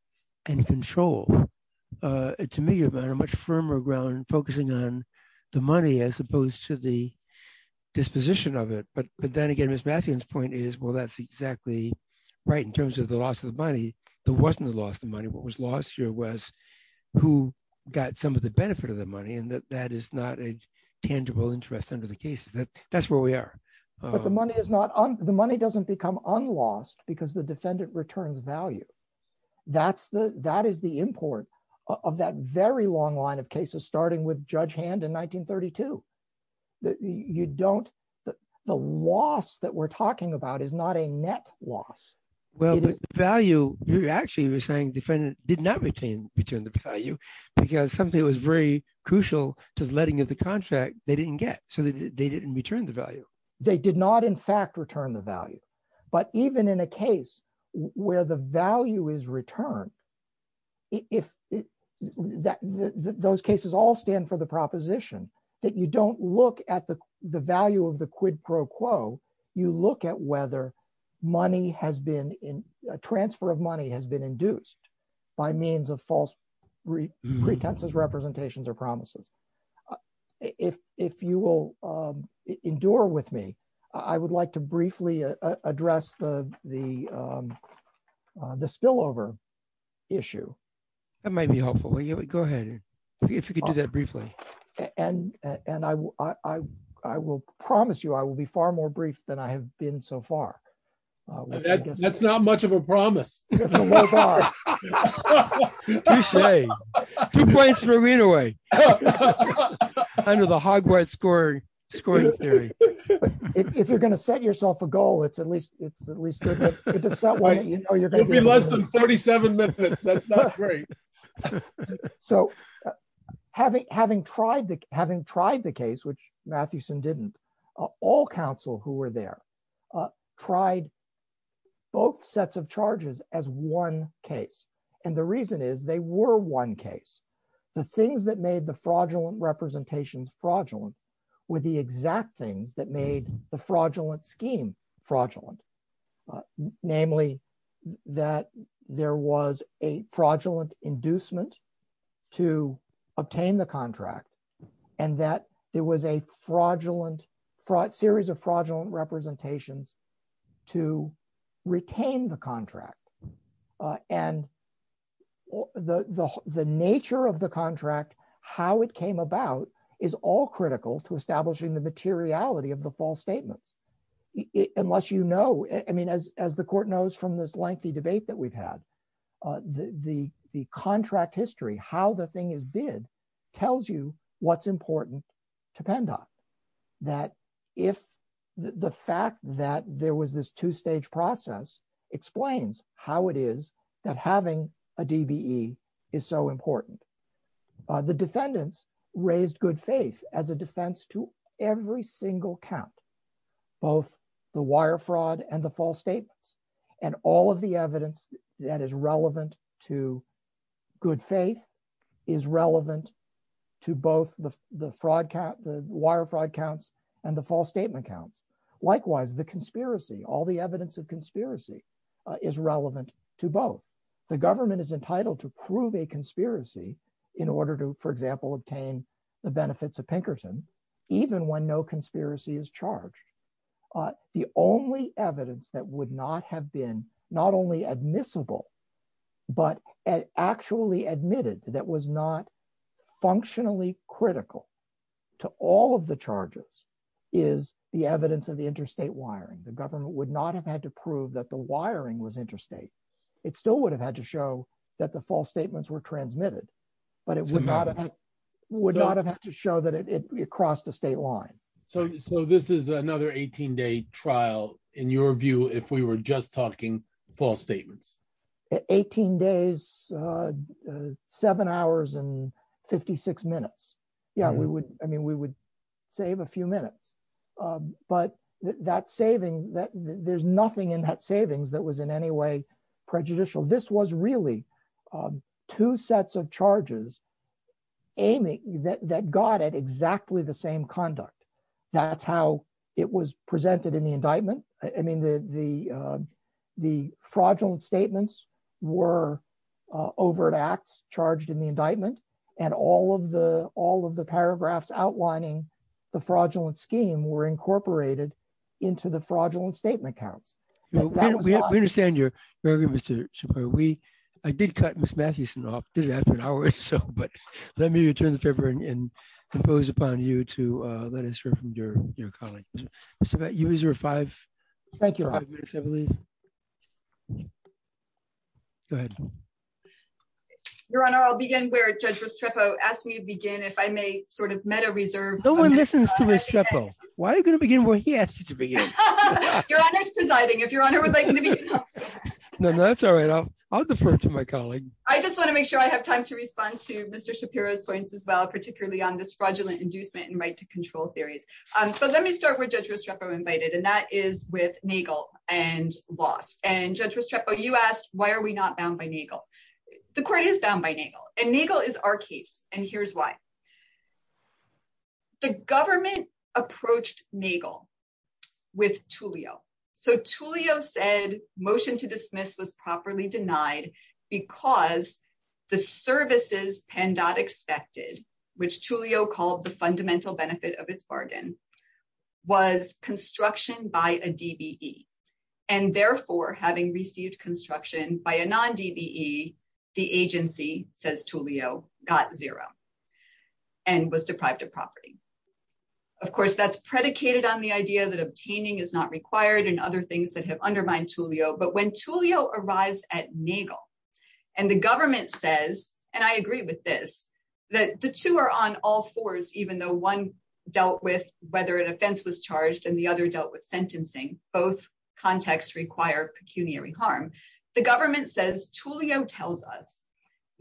and control. To me, you've got a much firmer ground focusing on the money as opposed to the disposition of it. But then again, Ms. Matthews' point is, well, that's exactly right in terms of the loss of the money. There wasn't a loss of money. What was lost here was who got some of the benefit of the money, and that is not a tangible interest under the case. That's where we are. But the money is not, the money doesn't become unlost because the defendant returns value. That's the, that is the import of that very long line of cases, starting with Judge Hand in 1932. You don't, the loss that we're talking about is not a net loss. Well, the value, you're actually saying defendant did not return the value because something was very crucial to the letting of the contract they didn't get, so they didn't return the value. They did not, in fact, return the value. But even in a case where the value is returned, those cases all stand for the proposition that you don't look at the value of the quid pro quo, you look at whether money has been, a transfer of money has been induced by means of false pretenses, representations, or promises. If you will endure with me, I would like to briefly address the spillover issue. That might be helpful. Go ahead, if you could do that briefly. And I will promise you I will be far more brief than I have been so far. That's not much of a promise. Oh, my God. Two points for readaway. Under the Hogwarts scoring theory. If you're going to set yourself a goal, it's at least, It'll be less than 47 minutes, that's not great. So having tried the case, which Matthewson didn't, all counsel who were there tried both sets of charges as one case. And the reason is they were one case. The things that made the fraudulent representations fraudulent were the exact things that made the fraudulent scheme fraudulent. Namely, that there was a fraudulent inducement to obtain the contract. And that there was a fraudulent series of fraudulent representations to retain the contract. And the nature of the contract, how it came about, is all critical to establishing the materiality of the false statement. Unless you know, I mean, as the Court knows from this lengthy debate that we've had, the contract history, how the thing is bid, tells you what's important to pend on. That if the fact that there was this two stage process explains how it is that having a DBE is so important. The defendants raised good faith as a defense to every single count. Both the wire fraud and the false statements and all of the evidence that is relevant to good faith is relevant to both the wire fraud counts and the false statement count. Likewise, the conspiracy, all the evidence of conspiracy is relevant to both. The government is entitled to prove a conspiracy in order to, for example, obtain the benefits of Pinkerton, even when no conspiracy is charged. The only evidence that would not have been not only admissible, but actually admitted that was not functionally critical to all of the charges is the evidence of the interstate wiring. The government would not have had to prove that the wiring was interstate. It still would have had to show that the false statements were transmitted, but it would not have had to show that it crossed the state line. So this is another 18 day trial in your view, if we were just talking false statements. 18 days, seven hours and 56 minutes. Yeah, we would, I mean, we would save a few minutes, but that saving that there's nothing in that savings that was in any way prejudicial. This was really two sets of charges aiming that got it exactly the same conduct. That's how it was presented in the indictment. I mean, the fraudulent statements were overt acts charged in the indictment and all of the paragraphs outlining the fraudulent scheme were incorporated into the indictment. I did cut Ms. Matthewson off, did it after an hour or so, but let me return the paper and impose upon you to let us hear from your colleagues. Mr. Bat, you was your five minutes, I believe. Go ahead. Your Honor, I'll begin where Judge Restrepo asked me to begin, if I may sort of meta reserve. No one listens to Ms. Restrepo. Why are you going to begin where he asked you to begin? Your Honor's presiding, if Your Honor would like me to. No, that's all right. I'll defer to my colleague. I just want to make sure I have time to respond to Mr. Shapiro's points as well, particularly on this fraudulent inducement and right to control theories. So let me start with Judge Restrepo invited, and that is with Nagel and lost. And Judge Restrepo, you asked, why are we not bound by Nagel? The court is bound by Nagel and Nagel is our case. And here's why. The government approached Nagel with Tulio. So Tulio said motion to dismiss was properly denied because the services PANDOT expected, which Tulio called the fundamental benefit of its bargain was construction by a DBE. And therefore having received construction by a non-DBE, the agency says Tulio got zero and was deprived of property. Of course, that's predicated on the idea that obtaining is not required and other things that have undermined Tulio. But when Tulio arrives at Nagel and the government says, and I agree with this, that the two are on all fours, even though one dealt with whether an offense was charged and the other dealt with sentencing, both contexts require pecuniary harm. The government says, Tulio tells us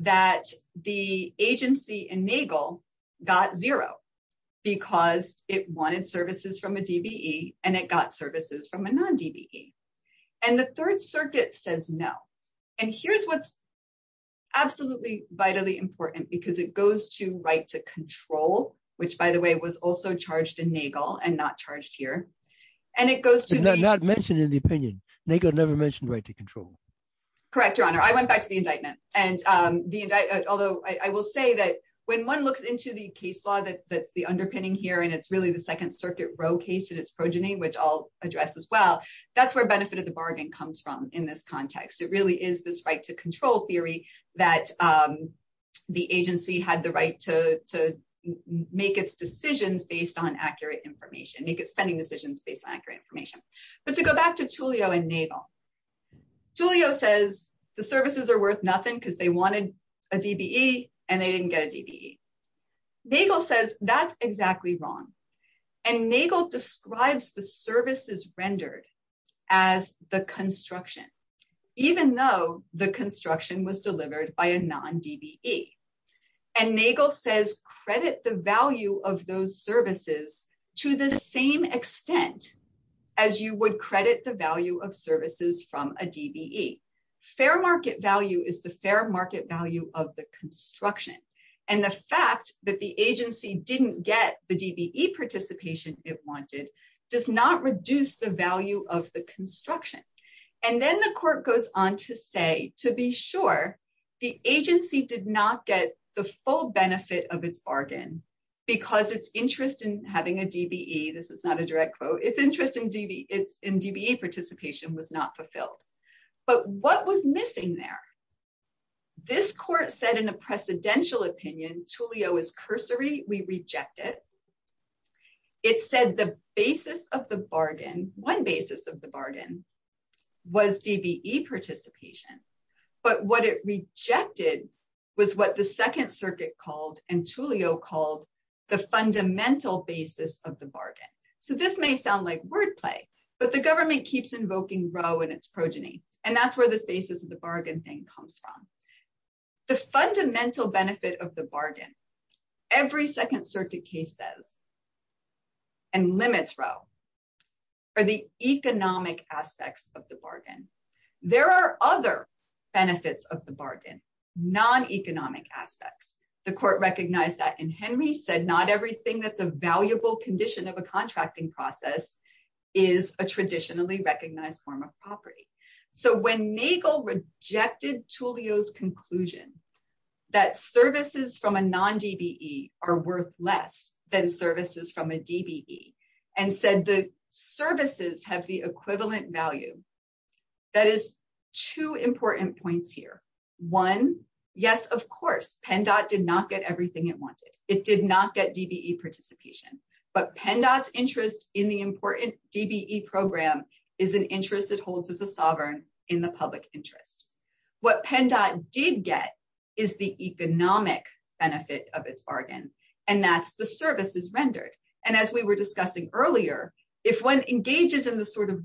that the agency in Nagel got zero because it wanted services from a DBE and it got services from a non-DBE. And the third circuit says no. And here's what's absolutely vitally important because it goes to right to control, which by the way, was also charged in Nagel and not charged here. And it goes to- Not mentioned in the opinion. Nagel never mentioned right to control. Correct, your honor. I went back to the indictment. Although I will say that when one looks into the case law, that's the underpinning here, and it's really the second circuit row case that it's progeny, which I'll address as well. That's where benefit of the bargain comes from in this context. It really is this right to control theory that the agency had the right to make its decisions based on accurate information, make its spending decisions based on accurate information. But to go back to Tulio and Nagel, Tulio says the services are worth nothing because they wanted a DBE and they didn't get a DBE. Nagel says that's exactly wrong. And Nagel describes the services rendered as the construction, even though the construction was delivered by a non-DBE. And Nagel says credit the value of those services to the same extent as you would credit the value of services from a DBE. Fair market value is the fair market value of the construction. And the fact that the agency didn't get the DBE participation it wanted does not reduce the full benefit of its bargain because its interest in having a DBE, this is not a direct quote, its interest in DBE participation was not fulfilled. But what was missing there? This court said in a precedential opinion, Tulio is cursory, we reject it. It said the basis of the bargain, one basis of the bargain was DBE participation. But what it rejected was what the second circuit called and Tulio called the fundamental basis of the bargain. So this may sound like wordplay, but the government keeps invoking Roe and its progeny. And that's where the basis of the bargain thing comes from. The fundamental benefit of the bargain, every second circuit case says, and limits Roe, are the economic aspects of the bargain. There are other benefits of the bargain, non-economic aspects. The court recognized that and Henry said not everything that's a valuable condition of a contracting process is a traditionally recognized form of property. So when Nagel rejected Tulio's conclusion that services from a non-DBE are worth less than services from a DBE and said the services have the equivalent value, that is two important points here. One, yes, of course, PennDOT did not get everything it wanted. It did not get DBE participation. But PennDOT's interest in the important DBE program is an interest it holds as a sovereign in the public interest. What PennDOT did get is the economic benefit of its bargain, and that's the services rendered. And as we were the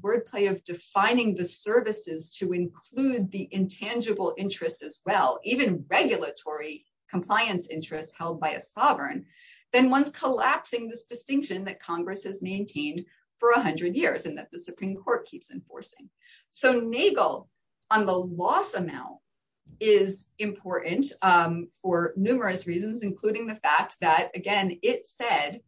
wordplay of defining the services to include the intangible interest as well, even regulatory compliance interest held by a sovereign, then one's collapsing this distinction that Congress has maintained for 100 years and that the Supreme Court keeps enforcing. So Nagel on the loss amount is important for numerous reasons, including the fact that, again, it said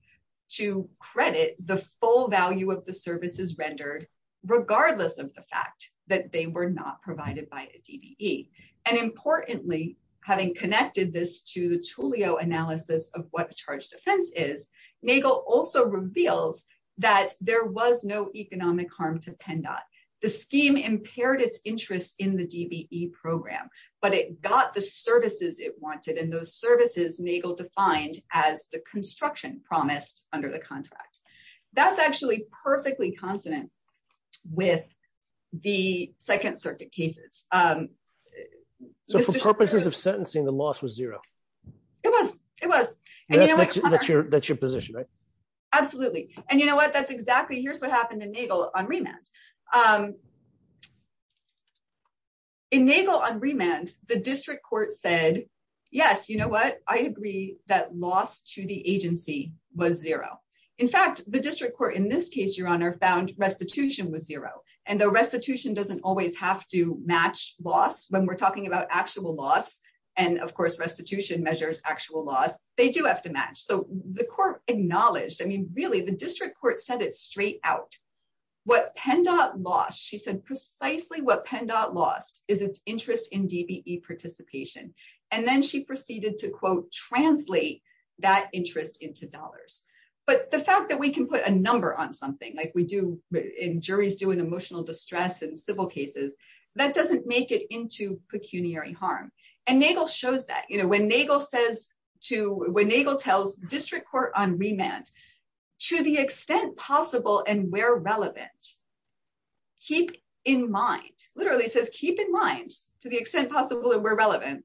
to credit the full value of the services rendered regardless of the fact that they were not provided by a DBE. And importantly, having connected this to the Tulio analysis of what a charged offense is, Nagel also reveals that there was no economic harm to PennDOT. The scheme impaired its interest in the DBE program, but it got the services it wanted, and those services Nagel defined as the construction promised under the contract. That's actually perfectly consonant with the Second Circuit cases. So for purposes of sentencing, the loss was zero? It was, it was. That's your position, right? Absolutely. And you know what, that's exactly, here's what happened to Nagel on remand. In Nagel on remand, the district court said, yes, you know what, I agree that loss to the agency was zero. In fact, the district court, in this case, Your Honor, found restitution was zero. And the restitution doesn't always have to match loss when we're talking about actual loss. And of course, restitution measures actual loss. They do have to match. So the court acknowledged, I mean, really the district court said it straight out. What PennDOT lost, she said precisely what PennDOT lost is its interest in DBE participation. And then she proceeded to, quote, translate that interest into dollars. But the fact that we can put a number on something, like we do, and juries do in emotional distress and civil cases, that doesn't make it into pecuniary harm. And Nagel shows that, you know, when Nagel says to, when Nagel tells district court on remand, to the extent possible and where relevant, keep in mind, literally it says, keep in mind, to the extent possible and where relevant,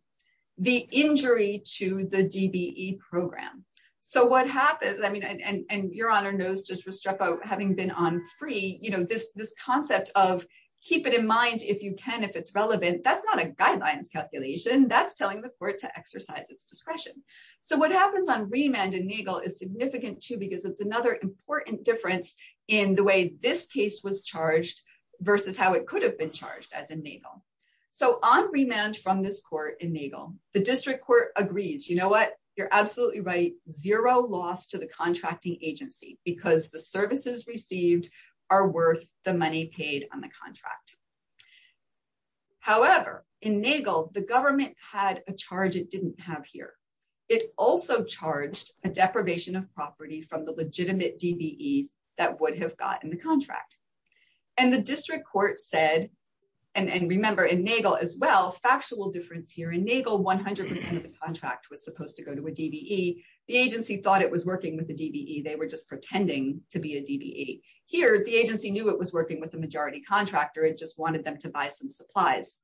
the injury to the DBE program. So what happens, I mean, and Your Honor knows just having been on free, you know, this concept of keep it in mind if you can, if it's relevant, that's not a guideline calculation. That's telling the court to exercise its discretion. So what happens on remand in Nagel is significant, too, because it's another important difference in the way this case was charged versus how it could have been charged as in Nagel. So on remand from this court in Nagel, the district court agrees, you know what, you're absolutely right, zero loss to the contracting agency because the services received are worth the money paid on the contract. However, in Nagel, the government had a charge it didn't have here. It also charged a deprivation of property from the legitimate DBE that would have gotten the contract. And the district court said, and remember in Nagel as well, factual difference here. In Nagel, 100% of the contract was supposed to go to a DBE. The agency thought it was working with the DBE. They were just pretending to be a DBE. Here, the agency knew it was working with the majority contractor. It just wanted them to buy some supplies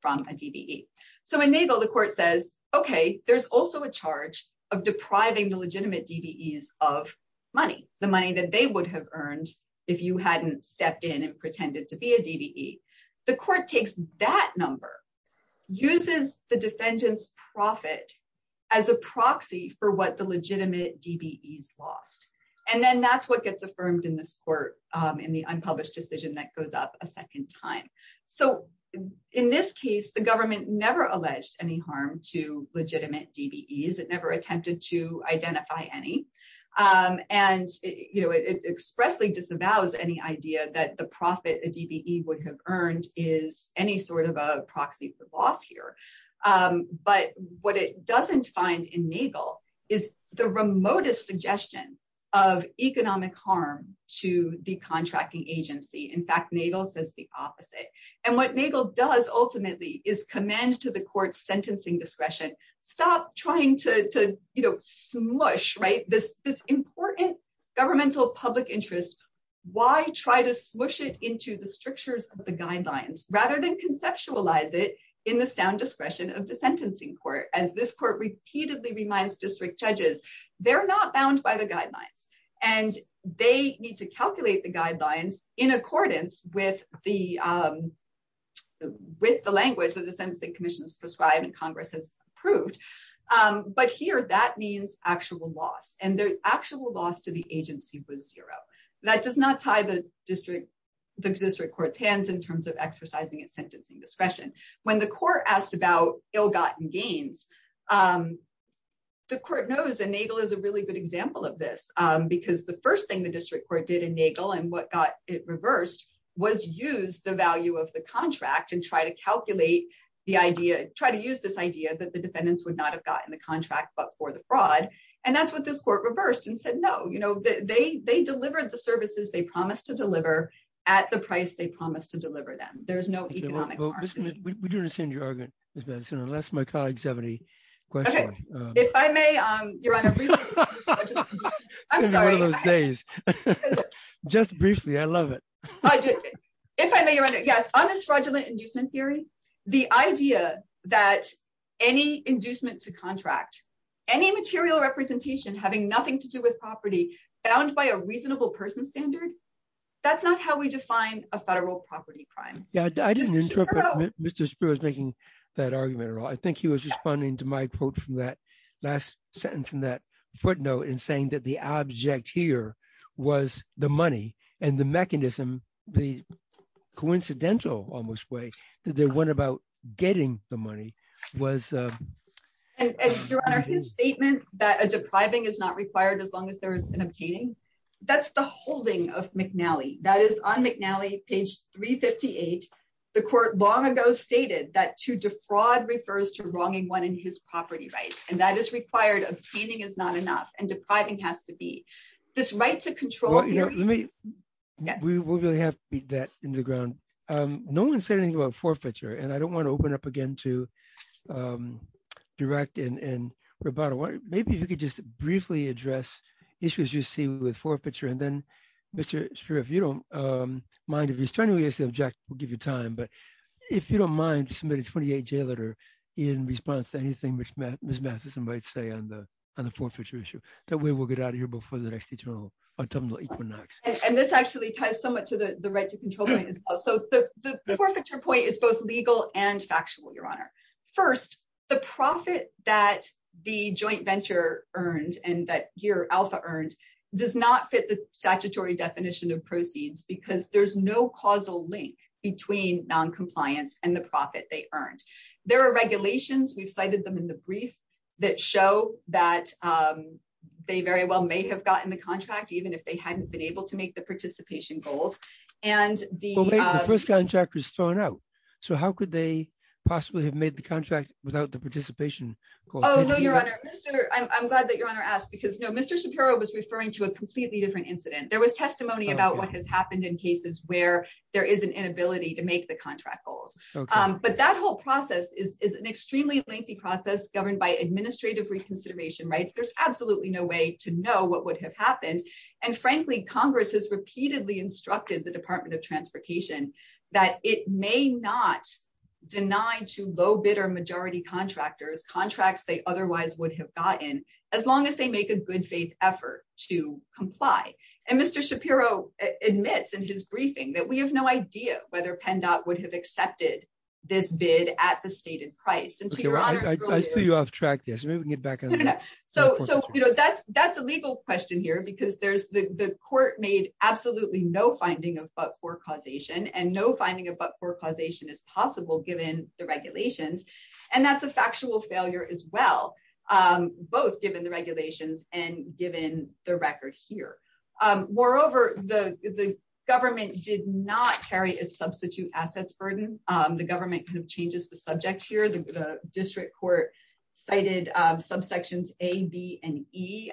from a DBE. So in Nagel, the court says, okay, there's also a DBE of money, the money that they would have earned if you hadn't stepped in and pretended to be a DBE. The court takes that number, uses the defendant's profit as a proxy for what the legitimate DBE lost. And then that's what gets affirmed in this court in the unpublished decision that goes up a second time. So in this case, the government never alleged any harm to legitimate DBEs. It never attempted to identify any. And it expressly disavows any idea that the profit a DBE would have earned is any sort of a proxy for loss here. But what it doesn't find in Nagel is the remotest suggestion of economic harm to the contracting agency. In fact, Nagel says the trying to smush this important governmental public interest, why try to smush it into the strictures of the guidelines rather than conceptualize it in the sound discretion of the sentencing court? As this court repeatedly reminds district judges, they're not bound by the guidelines. And they need to calculate the guidelines in accordance with the language that commission has prescribed and Congress has approved. But here, that means actual loss. And the actual loss to the agency was zero. That does not tie the district court's hands in terms of exercising its sentencing discretion. When the court asked about ill-gotten gains, the court knows that Nagel is a really good example of this. Because the first thing the district court did in Nagel and what got it reversed was use the value of the contract and try to calculate the idea, try to use this idea that the defendants would not have gotten the contract but for the fraud. And that's what this court reversed and said, no, they delivered the services they promised to deliver at the price they promised to deliver them. There's the idea that any inducement to contract, any material representation having nothing to do with property bound by a reasonable person standard, that's not how we define a federal property crime. I didn't interpret Mr. Spear as making that argument at all. I think he was responding to my quote from that last sentence from that footnote and saying that the object here was the money and the mechanism, the coincidental almost way that they went about getting the money was... His statement that a depriving is not required as long as there's an obtaining, that's the holding of McNally. That is on McNally, page 358, the court long ago stated that to defraud refers to wronging one in his property rights. And that is required. Obtaining is not and depriving has to be this right to control. We will really have to beat that into the ground. No one said anything about forfeiture and I don't want to open up again to direct and maybe you could just briefly address issues you're seeing with forfeiture. And then Mr. Spear, if you don't mind, if he's trying to use the object, we'll give you time, but if you don't mind, submit a 28-J letter in response to anything Ms. Matheson might say on the forfeiture issue that we will get out of here before the next interval on terms of Equinox. And this actually ties somewhat to the right to control. So the forfeiture point is both legal and factual, Your Honor. First, the profit that the joint venture earned and that Gear Alpha earned does not fit the statutory definition of proceeds because there's no causal link between noncompliance and the profit they earned. There are regulations, we've cited them in the that they very well may have gotten the contract, even if they hadn't been able to make the participation goals. And the first contract was thrown out. So how could they possibly have made the contract without the participation? Oh, no, Your Honor. I'm glad that Your Honor asked because no, Mr. Shapiro was referring to a completely different incident. There was testimony about what has happened in cases where there is an inability to make the contract goals. But that whole process is an extremely lengthy process governed by administrative reconsideration, right? There's absolutely no way to know what would have happened. And frankly, Congress has repeatedly instructed the Department of Transportation that it may not deny to low bidder majority contractors contracts they otherwise would have gotten as long as they make a good faith effort to comply. And Mr. Shapiro admits in his briefing that we have no idea whether PennDOT would have accepted this bid at the stated price. Okay, Your Honor, I see you off track here. So maybe we can get back on track. So that's a legal question here because the court made absolutely no finding of but-for causation and no finding of but-for causation is possible given the regulations. And that's a factual failure as well, both given the regulations and given the record here. Moreover, the government did not carry a substitute assets burden. The government kind of changes the subject here. The district court cited subsections A, B, and E,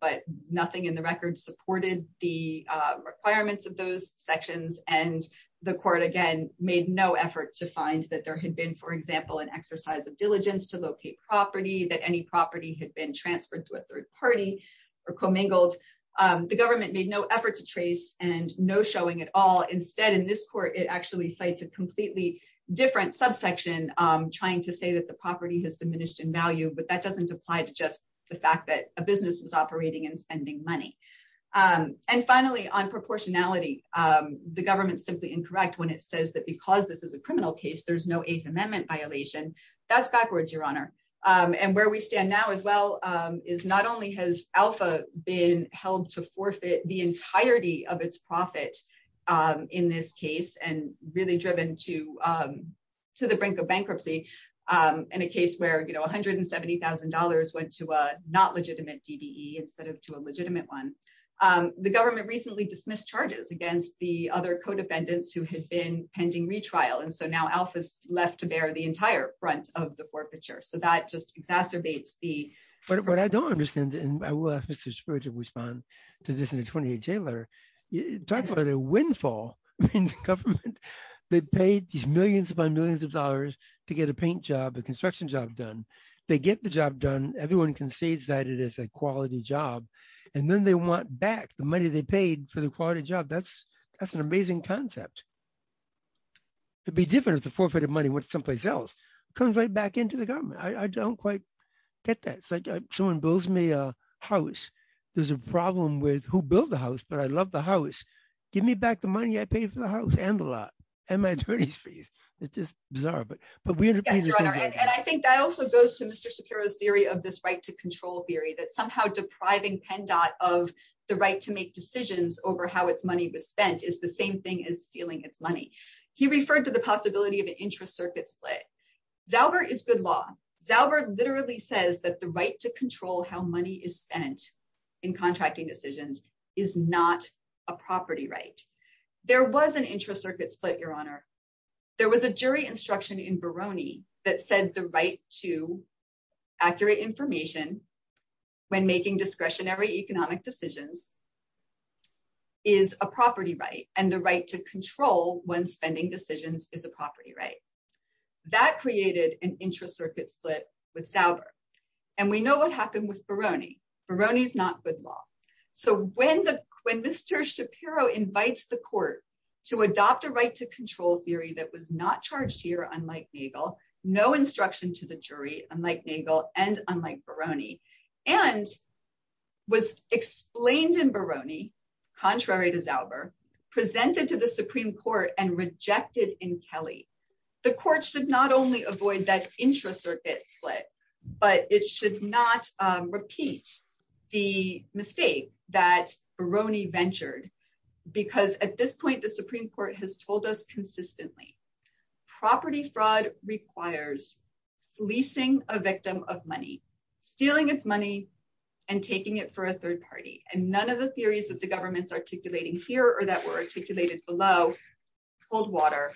but nothing in the record supported the requirements of those sections. And the court, again, made no effort to find that there had been, for example, an exercise of diligence to locate property, that any property had been transferred to a third party or commingled. The government made no effort to trace and no showing at all. Instead, in this court, it actually cites a completely different subsection trying to say that the property has diminished in value, but that doesn't apply to just the fact that a business is operating and spending money. And finally, on proportionality, the government simply incorrect when it says that because this is a criminal case, there's no Eighth Amendment violation. That's backwards, Your Honor. And where we stand now as well is not only has Alpha been held to forfeit the entirety of its profit in this case and really driven to the brink of bankruptcy in a case where $170,000 went to a not legitimate DDE instead of to a legitimate one. The government recently dismissed charges against the other co-defendants who had been of the forfeiture. So that just exacerbates the- But what I don't understand, and I will ask Mr. Schroeder to respond to this in his 28th day letter, talk about a windfall in government. They paid these millions upon millions of dollars to get a paint job, a construction job done. They get the job done. Everyone concedes that it is a quality job. And then they want back the money they paid for the quality job. That's an amazing concept. It'd be different if the comes right back into the government. I don't quite get that. It's like someone builds me a house. There's a problem with who built the house, but I love the house. Give me back the money I paid for the house and the lot and my attorneys fees. It's just bizarre, but we- Yes, Your Honor. And I think that also goes to Mr. Shapiro's theory of this right to control theory that somehow depriving PennDOT of the right to make decisions over how its money was spent is the same thing as stealing its money. He referred to the possibility of an intra-circuit split. Daubert is good law. Daubert literally says that the right to control how money is spent in contracting decisions is not a property right. There was an intra-circuit split, Your Honor. There was a jury instruction in Barone that said the right to accurate information when making discretionary economic decisions is a property right, and the right to control when spending decisions is a property right. That created an intra-circuit split with Daubert, and we know what happened with Barone. Barone's not good law. So when Mr. Shapiro invites the court to adopt a right to control theory that was not charged here, unlike Nagel, no instruction to the jury, unlike Nagel and unlike Barone, and was explained in Barone, contrary to Daubert, presented to the Supreme Court, and rejected in Kelly, the court should not only avoid that intra-circuit split, but it should not repeat the mistake that Barone ventured, because at this point, the Supreme Court has told us consistently, property fraud requires leasing a victim of money, stealing its money, and taking it for a third party. And none of the theories that the government's articulating here or that were articulated below cold water,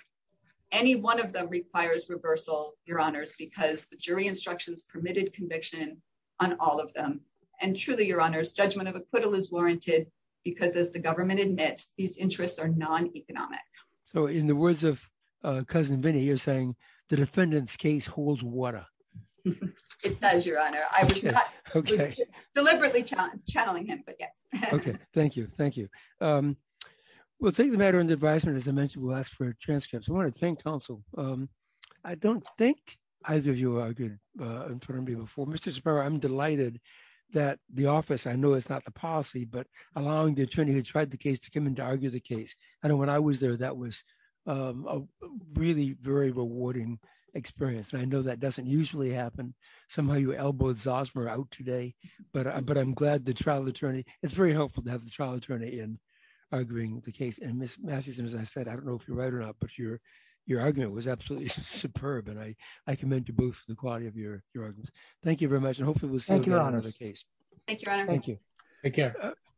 any one of them requires reversal, Your Honors, because the jury instructions permitted conviction on all of them. And truly, Your Honors, judgment of acquittal is warranted because as the government admits, these interests are non-economic. So in the words of Cousin Vinnie, you're saying the defendant's case holds water. It does, Your Honor. I was deliberately channeling him, but yes. Okay. Thank you. Thank you. We'll take the matter into advisement. As I mentioned, we'll ask for transcripts. I want to thank counsel. I don't think either of you are good in front of me before. Mr. Shapiro, I'm delighted that the office, I know it's not the policy, but the attorney who tried the case to come in to argue the case. I know when I was there, that was a really very rewarding experience. And I know that doesn't usually happen. Somehow you elbowed Zosmer out today, but I'm glad the trial attorney, it's very helpful to have the trial attorney in arguing the case. And Ms. Masterson, as I said, I don't know if you're right or not, but your argument was absolutely superb. And I commend you both for the quality of your arguments. Thank you very much. And hopefully we'll see you again on another case. Thank you, Your Honor. Thank you. Take care.